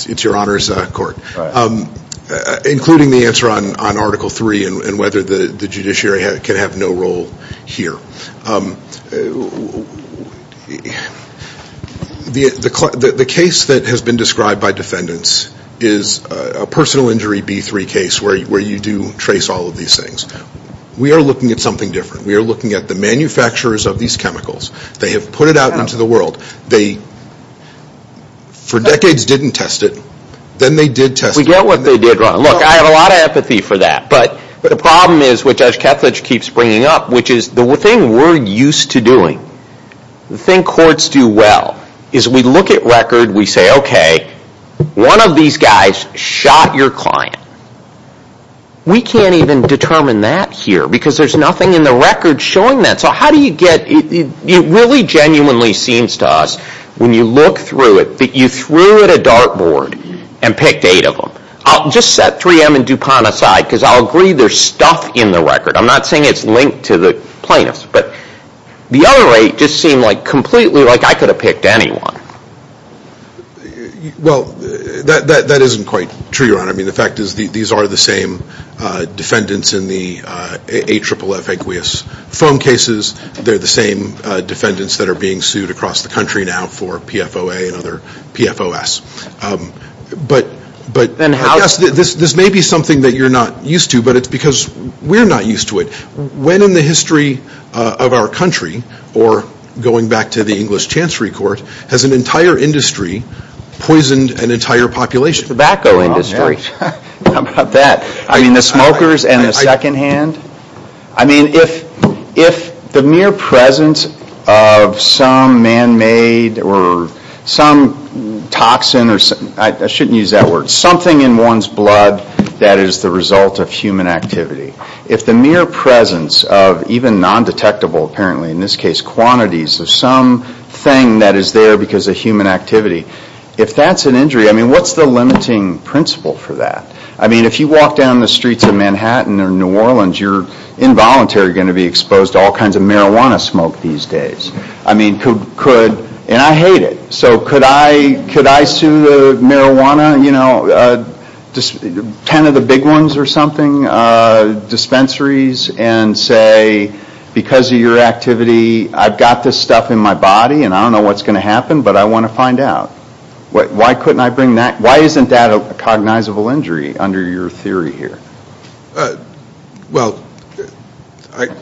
It's your honor's court. Including the answer on article three, and whether the judiciary can have no role here. The case that has been described by defendants is a personal injury B3 case, where you do trace all of these things. We are looking at something different. We are looking at the manufacturers of these chemicals. They have put it out into the world. They, for decades, didn't test it. Then they did test it. We get what they did, Ron. Look, I have a lot of empathy for that. But the problem is, which Judge Ketledge keeps bringing up, which is the thing we're used to doing, the thing courts do well, is we look at record, we say, okay, one of these guys shot your client. We can't even determine that here, because there's nothing in the record showing that. So, how do you get- It really genuinely seems to us, when you look through it, that you threw at a dartboard and picked eight of them. I'll just set 3M and DuPont aside, because I'll agree there's stuff in the record. I'm not saying it's linked to the plaintiffs, but the other eight just seem like completely like I could have picked anyone. Well, that isn't quite true, Ron. I mean, the fact is, these are the same defendants in the AFFF phone cases. They're the same defendants that are being sued across the country now for PFOA and other PFOS. But, I guess, this may be something that you're not used to, but it's because we're not used to it. When in the history of our country, or going back to the English Chancery Court, has an entire industry poisoned an entire population? Tobacco industry, how about that? I mean, the smokers and the second hand? I mean, if the mere presence of some man-made or some toxin, I shouldn't use that word, something in one's blood that is the result of human activity. If the mere presence of even non-detectable, apparently in this case quantities, of something that is there because of human activity, if that's an injury, I mean, what's the limiting principle for that? I mean, if you walk down the streets of Manhattan or New Orleans, you're involuntarily going to be exposed to all kinds of marijuana smoke these days. I mean, could, and I hate it. So, could I sue the marijuana, you know, 10 of the big ones or something, dispensaries, and say, because of your activity, I've got this stuff in my body, and I don't know what's going to happen, but I want to find out. Why couldn't I bring that, why isn't that a cognizable injury under your theory here? Well,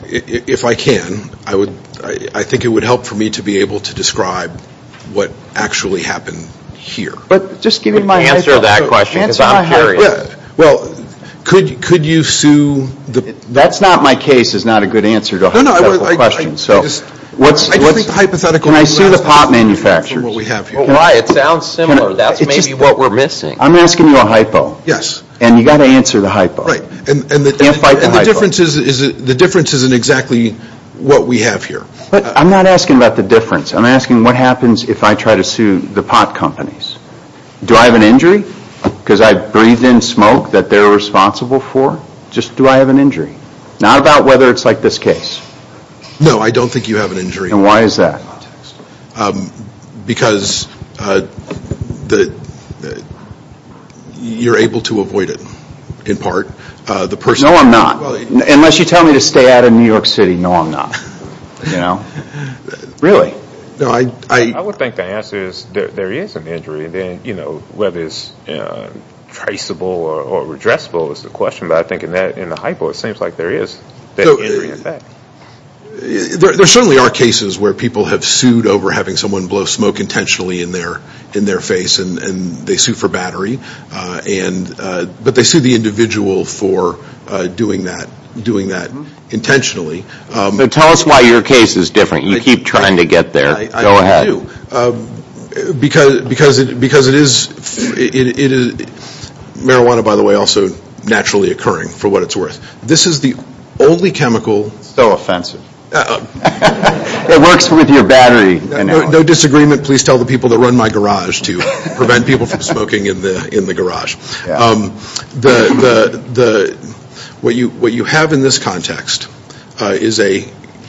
if I can, I think it would help for me to be able to describe what actually happened here. But just give me my answer to that question, because I'm curious. Well, could you sue the... That's not my case, is not a good answer to a hypothetical question. So, what's... I just think the hypothetical... Can I sue the pot manufacturers? Well, why? It sounds similar. That's maybe what we're missing. I'm asking you a hypo. Yes. And you've got to answer the hypo. Right, and the difference isn't exactly what we have here. But I'm not asking about the difference. I'm asking what happens if I try to sue the pot companies. Do I have an injury? Because I breathed in smoke that they're responsible for? Just do I have an injury? Not about whether it's like this case. No, I don't think you have an injury. And why is that? Because you're able to avoid it, in part, the person... No, I'm not. Unless you tell me to stay out of New York City, no, I'm not. Really. No, I... I would think the answer is there is an injury. Then, you know, whether it's traceable or redressable is the question. But I think in the hypo, it seems like there is that injury effect. There certainly are cases where people have sued over having someone blow smoke intentionally in their face. And they sue for battery. But they sue the individual for doing that intentionally. So tell us why your case is different. You keep trying to get there. Go ahead. Because it is... Marijuana, by the way, also naturally occurring, for what it's worth. This is the only chemical... So offensive. It works with your battery. No disagreement. Please tell the people that run my garage to prevent people from smoking in the garage. What you have in this context is a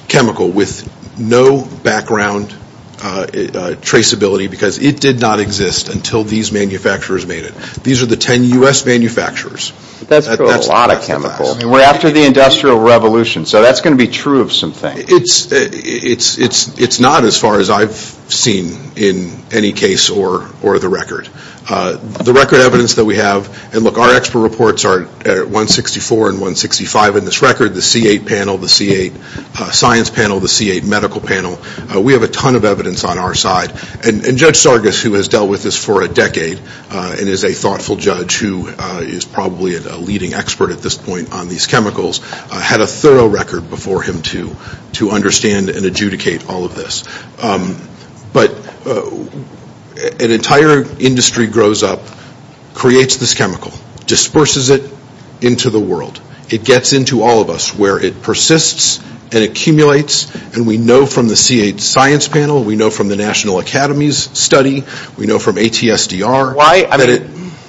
chemical with no background traceability. Because it did not exist until these manufacturers made it. These are the 10 U.S. manufacturers. That's a lot of chemicals. And we're after the Industrial Revolution. So that's going to be true of some things. It's not as far as I've seen in any case or the record. The record evidence that we have, and look, our expert reports are 164 and 165 in this record. The C8 panel, the C8 science panel, the C8 medical panel. We have a ton of evidence on our side. And Judge Sargas, who has dealt with this for a decade and is a thoughtful judge who is probably a leading expert at this point on these chemicals, had a thorough record before him to understand and adjudicate all of this. But an entire industry grows up, creates this chemical, disperses it into the world. It gets into all of us where it persists and accumulates. And we know from the C8 science panel, we know from the National Academies study, we know from ATSDR.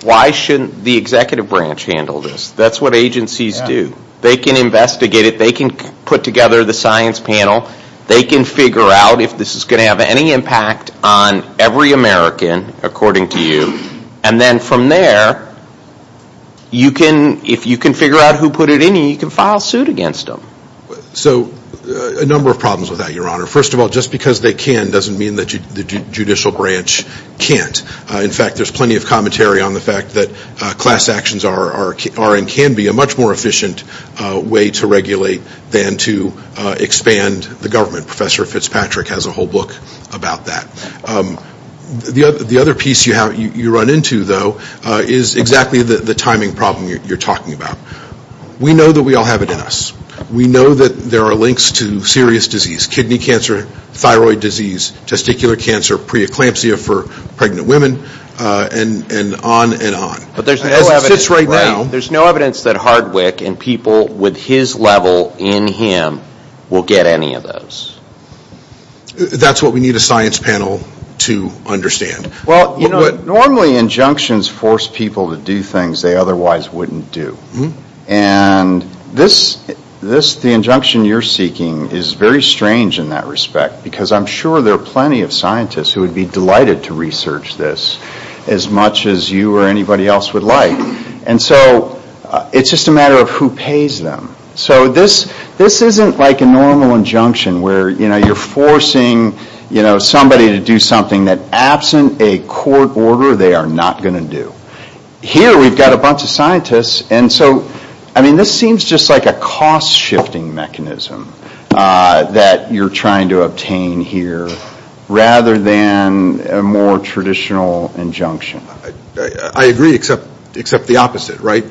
Why shouldn't the executive branch handle this? That's what agencies do. They can investigate it. They can put together the science panel. They can figure out if this is going to have any impact on every American, according to you. And then from there, if you can figure out who put it in you, you can file suit against them. So a number of problems with that, Your Honor. First of all, just because they can doesn't mean that the judicial branch can't. In fact, there's plenty of commentary on the fact that class actions are and can be a much more efficient way to regulate than to expand the government. Professor Fitzpatrick has a whole book about that. The other piece you run into, though, is exactly the timing problem you're talking about. We know that we all have it in us. We know that there are links to serious disease, kidney cancer, thyroid disease, testicular cancer, preeclampsia for pregnant women, and on and on. But there's no evidence right now. There's no evidence that Hardwick and people with his level in him will get any of those. That's what we need a science panel to understand. Well, you know, normally injunctions force people to do things they otherwise wouldn't do. And this, the injunction you're seeking, is very strange in that respect because I'm sure there are plenty of scientists who would be delighted to research this as much as you or anybody else would like. And so it's just a matter of who pays them. So this isn't like a normal injunction where, you know, you're forcing, you know, somebody to do something that absent a court order they are not going to do. Here we've got a bunch of scientists. And so, I mean, this seems just like a cost-shifting mechanism that you're trying to obtain here rather than a more traditional injunction. I agree except the opposite, right?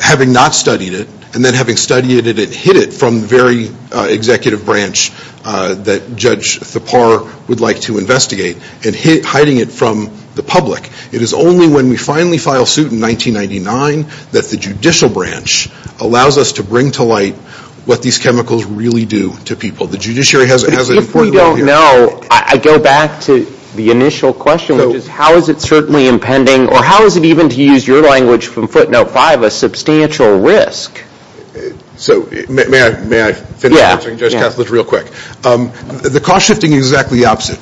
Having not studied it and then having studied it and hid it from the very executive branch that Judge Thapar would like to investigate and hiding it from the public. It is only when we finally file suit in 1999 that the judicial branch allows us to bring to light what these chemicals really do to people. The judiciary has an important role here. If we don't know, I go back to the initial question, which is how is it certainly impending or how is it even to use your language from footnote five, a substantial risk? So may I finish answering Judge Katz? Let's real quick. The cost-shifting is exactly the opposite.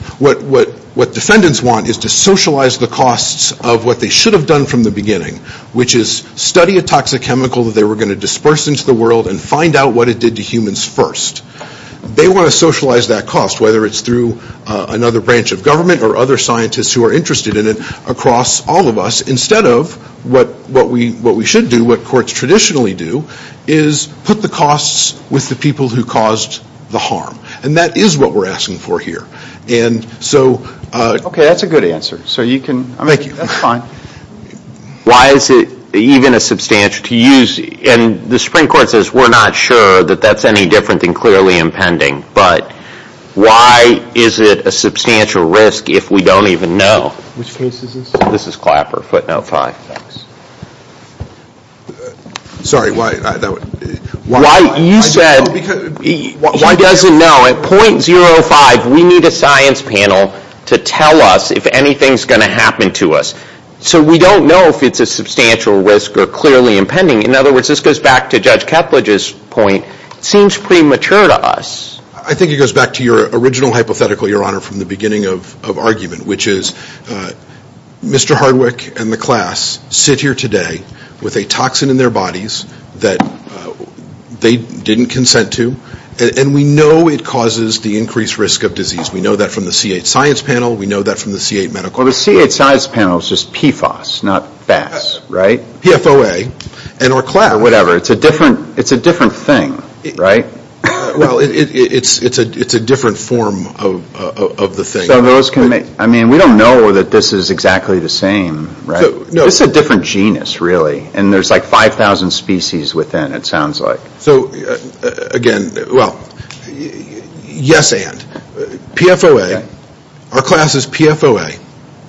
What defendants want is to socialize the costs of what they should have done from the beginning, which is study a toxic chemical that they were going to disperse into the world and find out what it did to humans first. They want to socialize that cost, whether it's through another branch of government or other scientists who are interested in it across all of us instead of what we should do, what courts traditionally do, is put the costs with the people who caused the harm. And that is what we're asking for here. And so. Okay, that's a good answer. So you can, that's fine. Why is it even a substantial, to use, and the Supreme Court says we're not sure that that's any different than clearly impending, but why is it a substantial risk if we don't even know? Which case is this? This is Clapper, footnote five. Sorry, why, I don't, why, I don't know, because, why, I don't know. No, at point zero five, we need a science panel to tell us if anything's going to happen to us. So we don't know if it's a substantial risk or clearly impending. In other words, this goes back to Judge Ketledge's point, it seems premature to us. I think it goes back to your original hypothetical, Your Honor, from the beginning of argument, which is Mr. Hardwick and the class sit here today with a toxin in their bodies that they didn't consent to, and we know it causes the increased risk of disease. We know that from the C8 science panel. We know that from the C8 medical. Well, the C8 science panel is just PFAS, not FAS, right? PFOA, and our class. Whatever, it's a different, it's a different thing, right? Well, it's a different form of the thing. So those can make, I mean, we don't know that this is exactly the same, right? It's a different genus, really, and there's like 5,000 species within, it sounds like. So again, well, yes and. PFOA, our class is PFOA,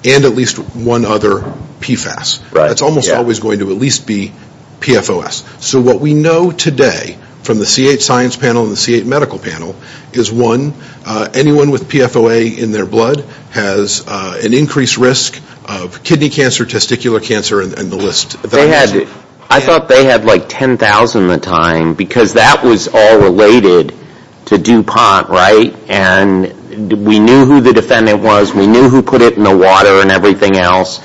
and at least one other PFAS. That's almost always going to at least be PFOS. So what we know today from the C8 science panel and the C8 medical panel is one, anyone with PFOA in their blood has an increased risk of kidney cancer, testicular cancer, and the list. They had, I thought they had like 10,000 at the time, because that was all related to DuPont, right? And we knew who the defendant was. We knew who put it in the water and everything else,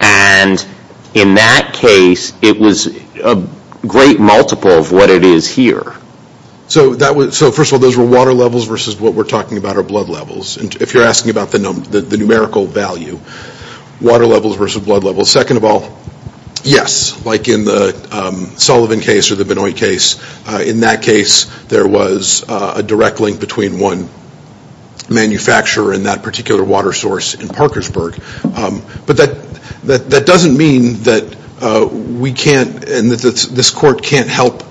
and in that case, it was a great multiple of what it is here. So first of all, those were water levels versus what we're talking about are blood levels. And if you're asking about the numerical value, water levels versus blood levels. Second of all, yes, like in the Sullivan case or the Benoit case, in that case, there was a direct link between one manufacturer and that particular water source in Parkersburg. But that doesn't mean that we can't, and that this court can't help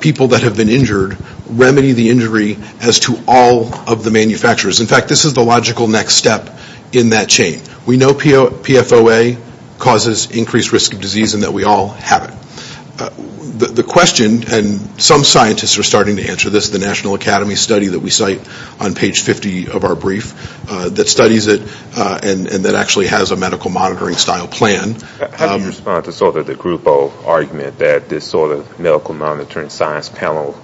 people that have been injured remedy the injury as to all of the manufacturers. In fact, this is the logical next step in that chain. We know PFOA causes increased risk of disease and that we all have it. The question, and some scientists are starting to answer this, the National Academy study that we cite on page 50 of our brief that studies it and that actually has a medical monitoring style plan. How do you respond to sort of the group of argument that this sort of medical monitoring science panel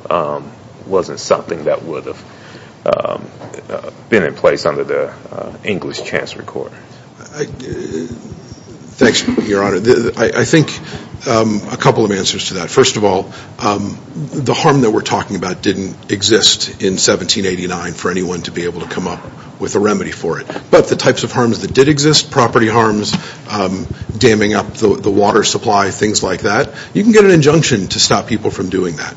wasn't something that would have been in place under the English chance recorder? Thanks, Your Honor. I think a couple of answers to that. First of all, the harm that we're talking about didn't exist in 1789 for anyone to be able to come up with a remedy for it. But the types of harms that did exist, property harms, damming up the water supply, things like that, you can get an injunction to stop people from doing that.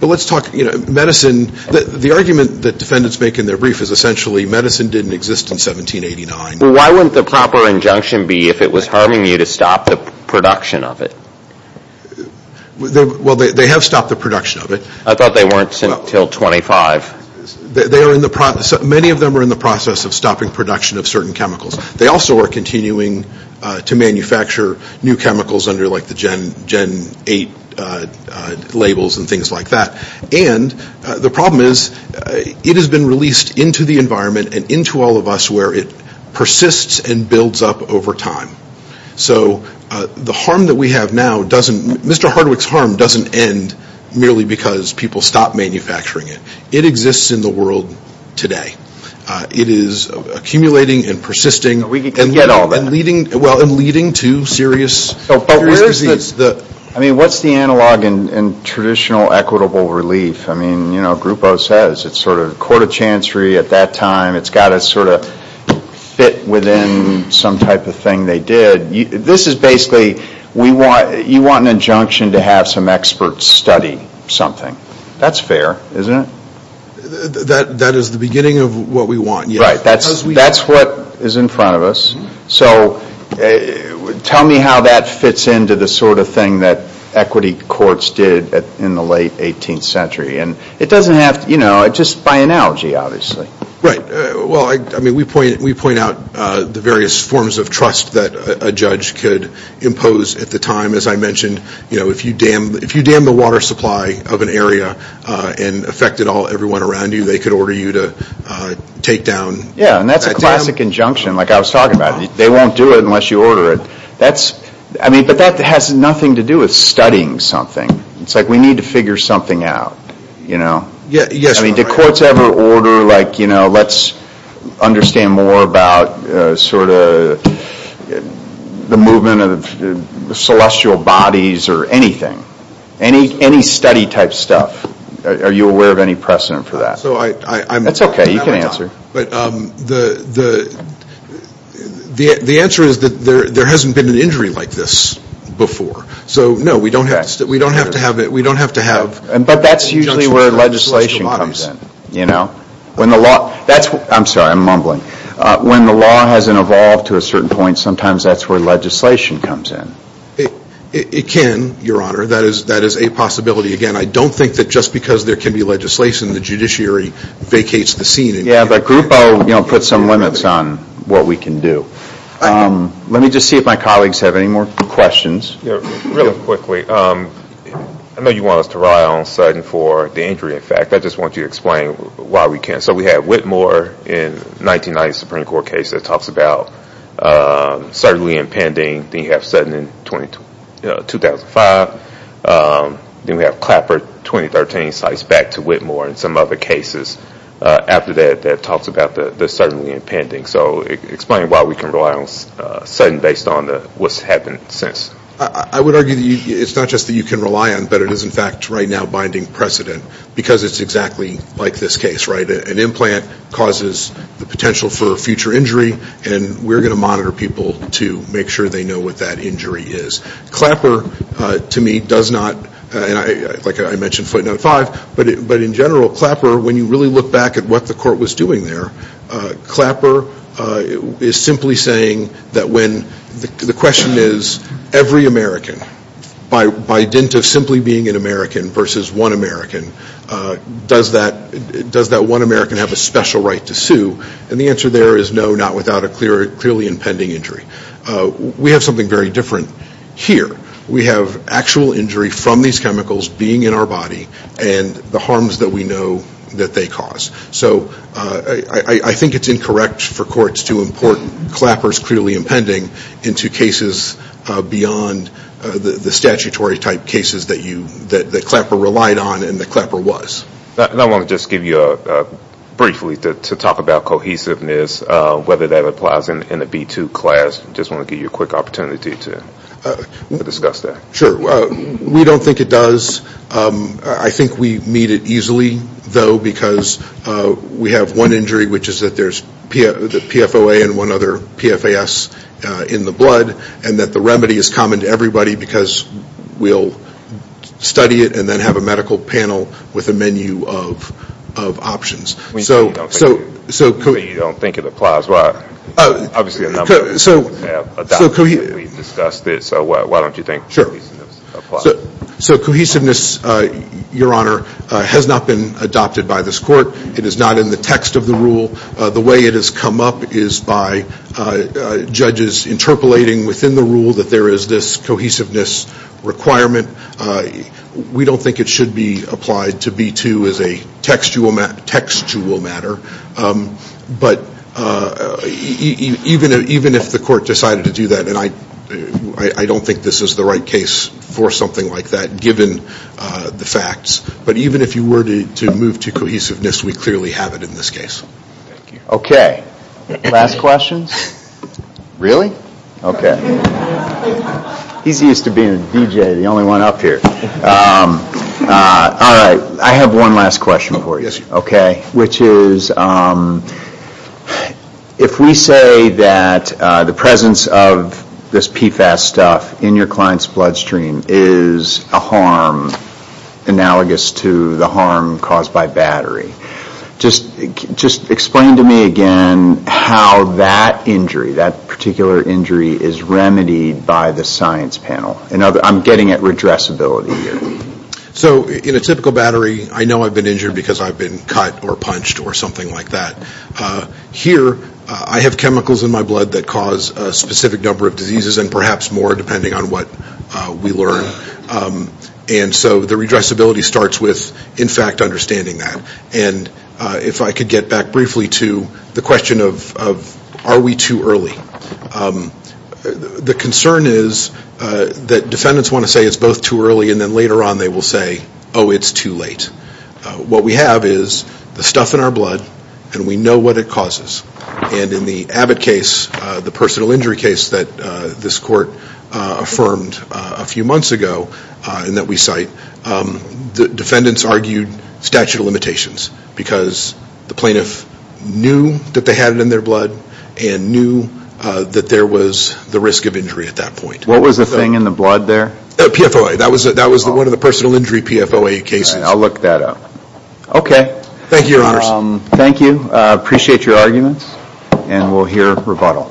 But let's talk, you know, medicine, the argument that defendants make in their brief is essentially medicine didn't exist in 1789. Why wouldn't the proper injunction be if it was harming you to stop the production of it? Well, they have stopped the production of it. I thought they weren't sent until 25. They are in the process, many of them are in the process of stopping production of certain chemicals. They also are continuing to manufacture new chemicals under like the Gen 8 labels and things like that. And the problem is it has been released into the environment and into all of us where it persists and builds up over time. So the harm that we have now doesn't, Mr. Hardwick's harm doesn't end merely because people stopped manufacturing it. It exists in the world today. It is accumulating and persisting. We can get all that. And leading, well, and leading to serious disease. I mean, what's the analog in traditional equitable relief? I mean, you know, Grupo says it's sort of court of chancery at that time. It's got to sort of fit within some type of thing they did. This is basically we want, you want an injunction to have some experts study something. That's fair, isn't it? That is the beginning of what we want. Right. That's what is in front of us. So tell me how that fits into the sort of thing that equity courts did in the late 18th century. And it doesn't have to, you know, just by analogy, obviously. Right. Well, I mean, we point out the various forms of trust that a judge could impose at the time. As I mentioned, you know, if you dam the water supply of an area and affected everyone around you, they could order you to take down that dam. Yeah, and that's a classic injunction, like I was talking about. They won't do it unless you order it. That's, I mean, but that has nothing to do with studying something. It's like we need to figure something out, you know. Yes. I mean, did courts ever order, like, you know, let's understand more about sort of the movement of the celestial bodies or anything, any study type stuff? Are you aware of any precedent for that? So I'm. That's okay. You can answer. But the answer is that there hasn't been an injury like this before. So, no, we don't have to have it. We don't have to have. But that's usually where legislation comes in, you know. When the law, that's, I'm sorry, I'm mumbling. When the law hasn't evolved to a certain point, sometimes that's where legislation comes in. It can, Your Honor. That is a possibility. Again, I don't think that just because there can be legislation, the judiciary vacates the scene. Yeah, the group, you know, put some limits on what we can do. Let me just see if my colleagues have any more questions. Yeah, real quickly. I know you want us to rely on Sutton for the injury effect. I just want you to explain why we can't. So we have Whitmore in 1990 Supreme Court case that talks about certainly impending. Then you have Sutton in 2005. Then we have Clapper 2013 sliced back to Whitmore and some other cases after that that talks about the certainly impending. So explain why we can rely on Sutton based on what's happened since. I would argue it's not just that you can rely on, but it is in fact right now binding precedent because it's exactly like this case, right? An implant causes the potential for a future injury and we're going to monitor people to make sure they know what that injury is. Clapper to me does not, like I mentioned footnote five, but in general Clapper when you really look back at what the court was doing there, Clapper is simply saying that when the question is every American by dint of simply being an American versus one American, does that one American have a special right to sue? And the answer there is no, not without a clearly impending injury. We have something very different here. We have actual injury from these chemicals being in our body and the harms that we know that they cause. So I think it's incorrect for courts to import Clapper's clearly impending into cases beyond the statutory type cases that Clapper relied on and that Clapper was. I want to just give you a, briefly to talk about cohesiveness, whether that applies in the B2 class. I just want to give you a quick opportunity to discuss that. Sure. We don't think it does. I think we meet it easily though because we have one injury which is that there's the PFOA and one other PFAS in the blood and that the remedy is common to everybody because we'll study it and then have a medical panel with a menu of options. So, so, so. You don't think it applies. Well, obviously a number of people have adopted it, we've discussed it, so why don't you think cohesiveness applies? Sure. So cohesiveness, your honor, has not been adopted by this court. It is not in the text of the rule. The way it has come up is by judges interpolating within the rule that there is this cohesiveness requirement. We don't think it should be applied to B2 as a textual matter, but even if the court decided to do that, and I don't think this is the right case for something like that given the facts, but even if you were to move to cohesiveness, we clearly have it in this case. Okay. Last questions? Really? Okay. He's used to being a DJ, the only one up here. All right, I have one last question for you, okay, which is if we say that the presence of this PFAS stuff in your client's bloodstream is a harm analogous to the harm caused by battery, just explain to me again how that injury, that particular injury, is remedied by the science panel. I'm getting at redressability here. So in a typical battery, I know I've been injured because I've been cut or punched or something like that. Here, I have chemicals in my blood that cause a specific number of diseases and perhaps more depending on what we learn, and so the redressability starts with in fact understanding that, and if I could get back briefly to the question of are we too early. The concern is that defendants want to say it's both too early and then later on they will say, oh, it's too late. What we have is the stuff in our blood and we know what it causes, and in the Abbott case, the personal injury case that this court affirmed a few months ago and that we cite, the defendants argued statute of limitations because the plaintiff knew that they had it in their blood and knew that there was the risk of injury at that point. What was the thing in the blood there? PFOA. That was one of the personal injury PFOA cases. I'll look that up. Okay. Thank you, Your Honors. Thank you. I appreciate your arguments, and we'll hear rebuttal.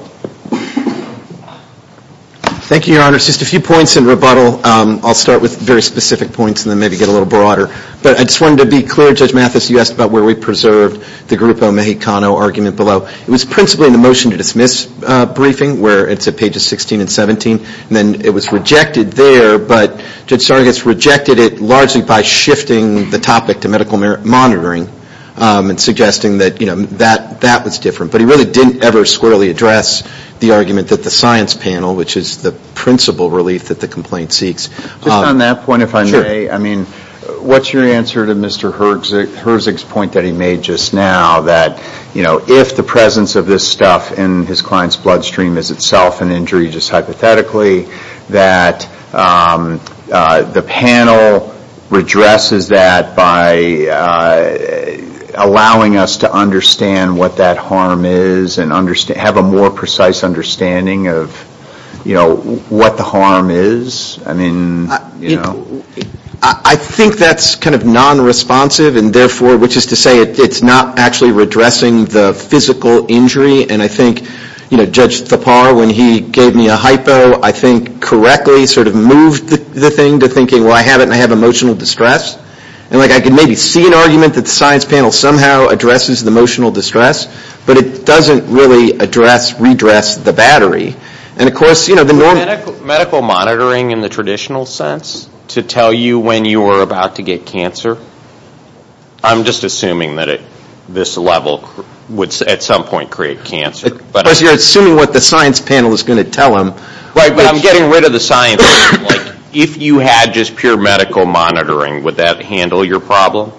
Thank you, Your Honors. Just a few points in rebuttal. I'll start with very specific points and then maybe get a little broader, but I just wanted to be clear, Judge Mathis, you asked about where we preserved the Grupo Mexicano argument below. It was principally in the motion to dismiss briefing where it's at pages 16 and 17, and then it was rejected there, but Judge Sargas rejected it largely by shifting the topic to medical monitoring and suggesting that, you know, that was different, but he really didn't ever squarely address the argument that the science panel, which is the principal relief that the complaint seeks. Just on that point, if I may, I mean, what's your answer to Mr. Herzig's point that he made just now that, you know, if the presence of this stuff in his client's bloodstream is itself an injury just hypothetically, that the panel redresses that by allowing us to understand what that harm is and have a more precise understanding of, you know, what the harm is? I mean, you know. I think that's kind of non-responsive and therefore, which is to say it's not actually redressing the physical injury, and I think, you know, Judge Thapar, when he gave me a hypo, I think correctly sort of moved the thing to thinking, well, I have it and I have emotional distress, and like I can maybe see an argument that the science panel somehow addresses the emotional distress, but it doesn't really address, redress the battery, and of course, you know, the normal. Medical monitoring in the traditional sense to tell you when you are about to get cancer? I'm just assuming that at this level would at some point create cancer, but. Of course, you're assuming what the science panel is going to tell him. Right, but I'm getting rid of the science. Like, if you had just pure medical monitoring, would that handle your problem?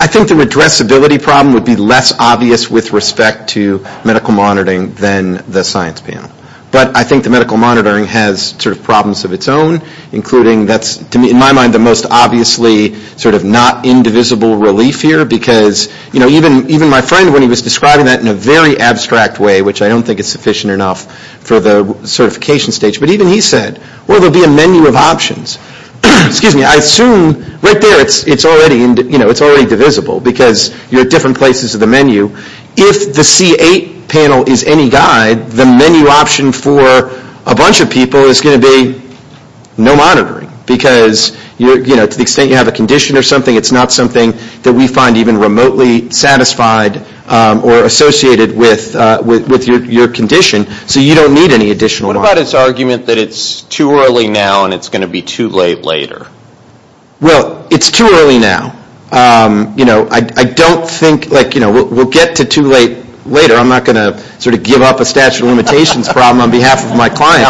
I think the redressability problem would be less obvious with respect to medical monitoring than the science panel. But I think the medical monitoring has sort of problems of its own, including that's, to me, in my mind, the most obviously sort of not indivisible relief here because, you know, even my friend, when he was describing that in a very abstract way, which I don't think is sufficient enough for the certification stage, but even he said, well, there will be a menu of options. Excuse me, I assume right there, it's already, you know, it's already divisible because you're at different places of the menu. If the C8 panel is any guide, the menu option for a bunch of people is going to be no monitoring because, you know, to the extent you have a condition or something, it's not something that we find even remotely satisfied or associated with your condition. So you don't need any additional. What about this argument that it's too early now and it's going to be too late later? Well, it's too early now. You know, I don't think, like, you know, we'll get to too late later. I'm not going to sort of give up a statute of limitations problem on behalf of my client.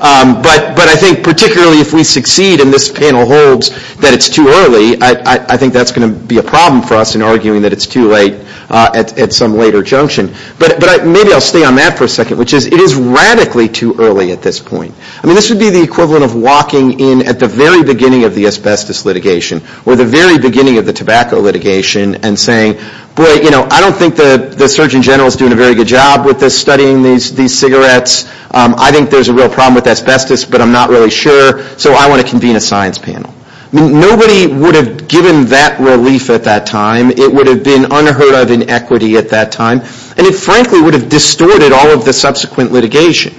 But I think particularly if we succeed and this panel holds that it's too early, I think that's going to be a problem for us in arguing that it's too late at some later junction. But maybe I'll stay on that for a second, which is it is radically too early at this point. I mean, this would be the equivalent of walking in at the very beginning of the asbestos litigation or the very beginning of the tobacco litigation and saying, boy, you know, I don't think the Surgeon General is doing a very good job with this, studying these cigarettes. I think there's a real problem with asbestos, but I'm not really sure. So I want to convene a science panel. Nobody would have given that relief at that time. It would have been unheard of in equity at that time. And it frankly would have distorted all of the subsequent litigation.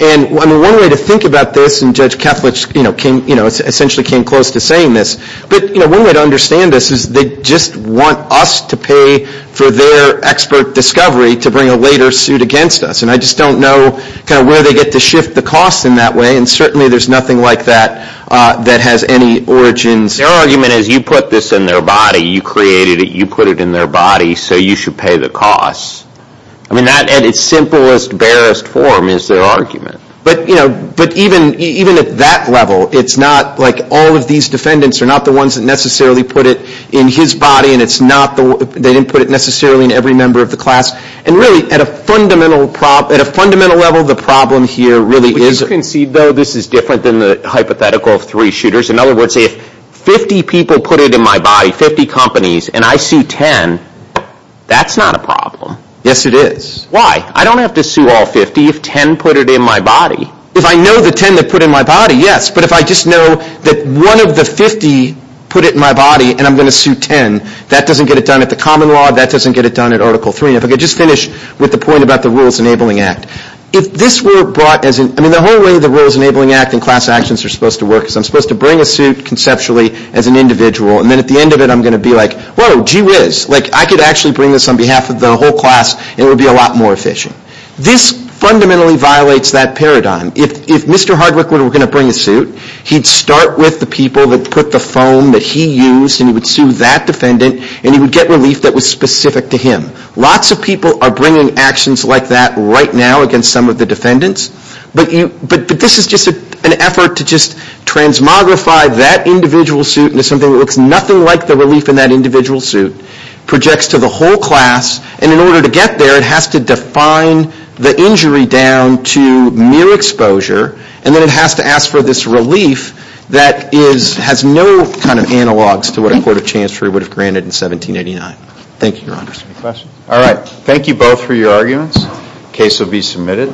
And one way to think about this, and Judge Keflick, you know, came, you know, essentially came close to saying this, but, you know, one way to understand this is they just want us to pay for their expert discovery to bring a later suit against us. And I just don't know kind of where they get to shift the cost in that way. And certainly there's nothing like that that has any origins. Their argument is you put this in their body. You created it. You put it in their body, so you should pay the cost. I mean, that at its simplest, barest form is their argument. But, you know, but even at that level, it's not like all of these defendants are not the ones that necessarily put it in his body. And it's not the, they didn't put it necessarily in every member of the class. And really at a fundamental problem, at a fundamental level, the problem here really is. As you can see, though, this is different than the hypothetical of three shooters. In other words, if 50 people put it in my body, 50 companies, and I sue 10, that's not a problem. Yes, it is. Why? I don't have to sue all 50 if 10 put it in my body. If I know the 10 that put it in my body, yes. But if I just know that one of the 50 put it in my body and I'm going to sue 10, that doesn't get it done at the common law. That doesn't get it done at Article 3. And if I could just finish with the point about the Rules Enabling Act. If this were brought, I mean, the whole way the Rules Enabling Act and class actions are supposed to work is I'm supposed to bring a suit conceptually as an individual. And then at the end of it, I'm going to be like, whoa, gee whiz. Like, I could actually bring this on behalf of the whole class, and it would be a lot more efficient. This fundamentally violates that paradigm. If Mr. Hardwick were going to bring a suit, he'd start with the people that put the foam that he used, and he would sue that defendant, and he would get relief that was specific to him. Lots of people are bringing actions like that right now against some of the defendants. But this is just an effort to just transmogrify that individual suit into something that looks nothing like the relief in that individual suit, projects to the whole class, and in order to get there, it has to define the injury down to mere exposure, and then it has to ask for this relief that has no kind of analogs to what a court of chancery would have granted in 1789. Thank you, Your Honor. Any questions? All right. Thank you both for your arguments. Case will be submitted.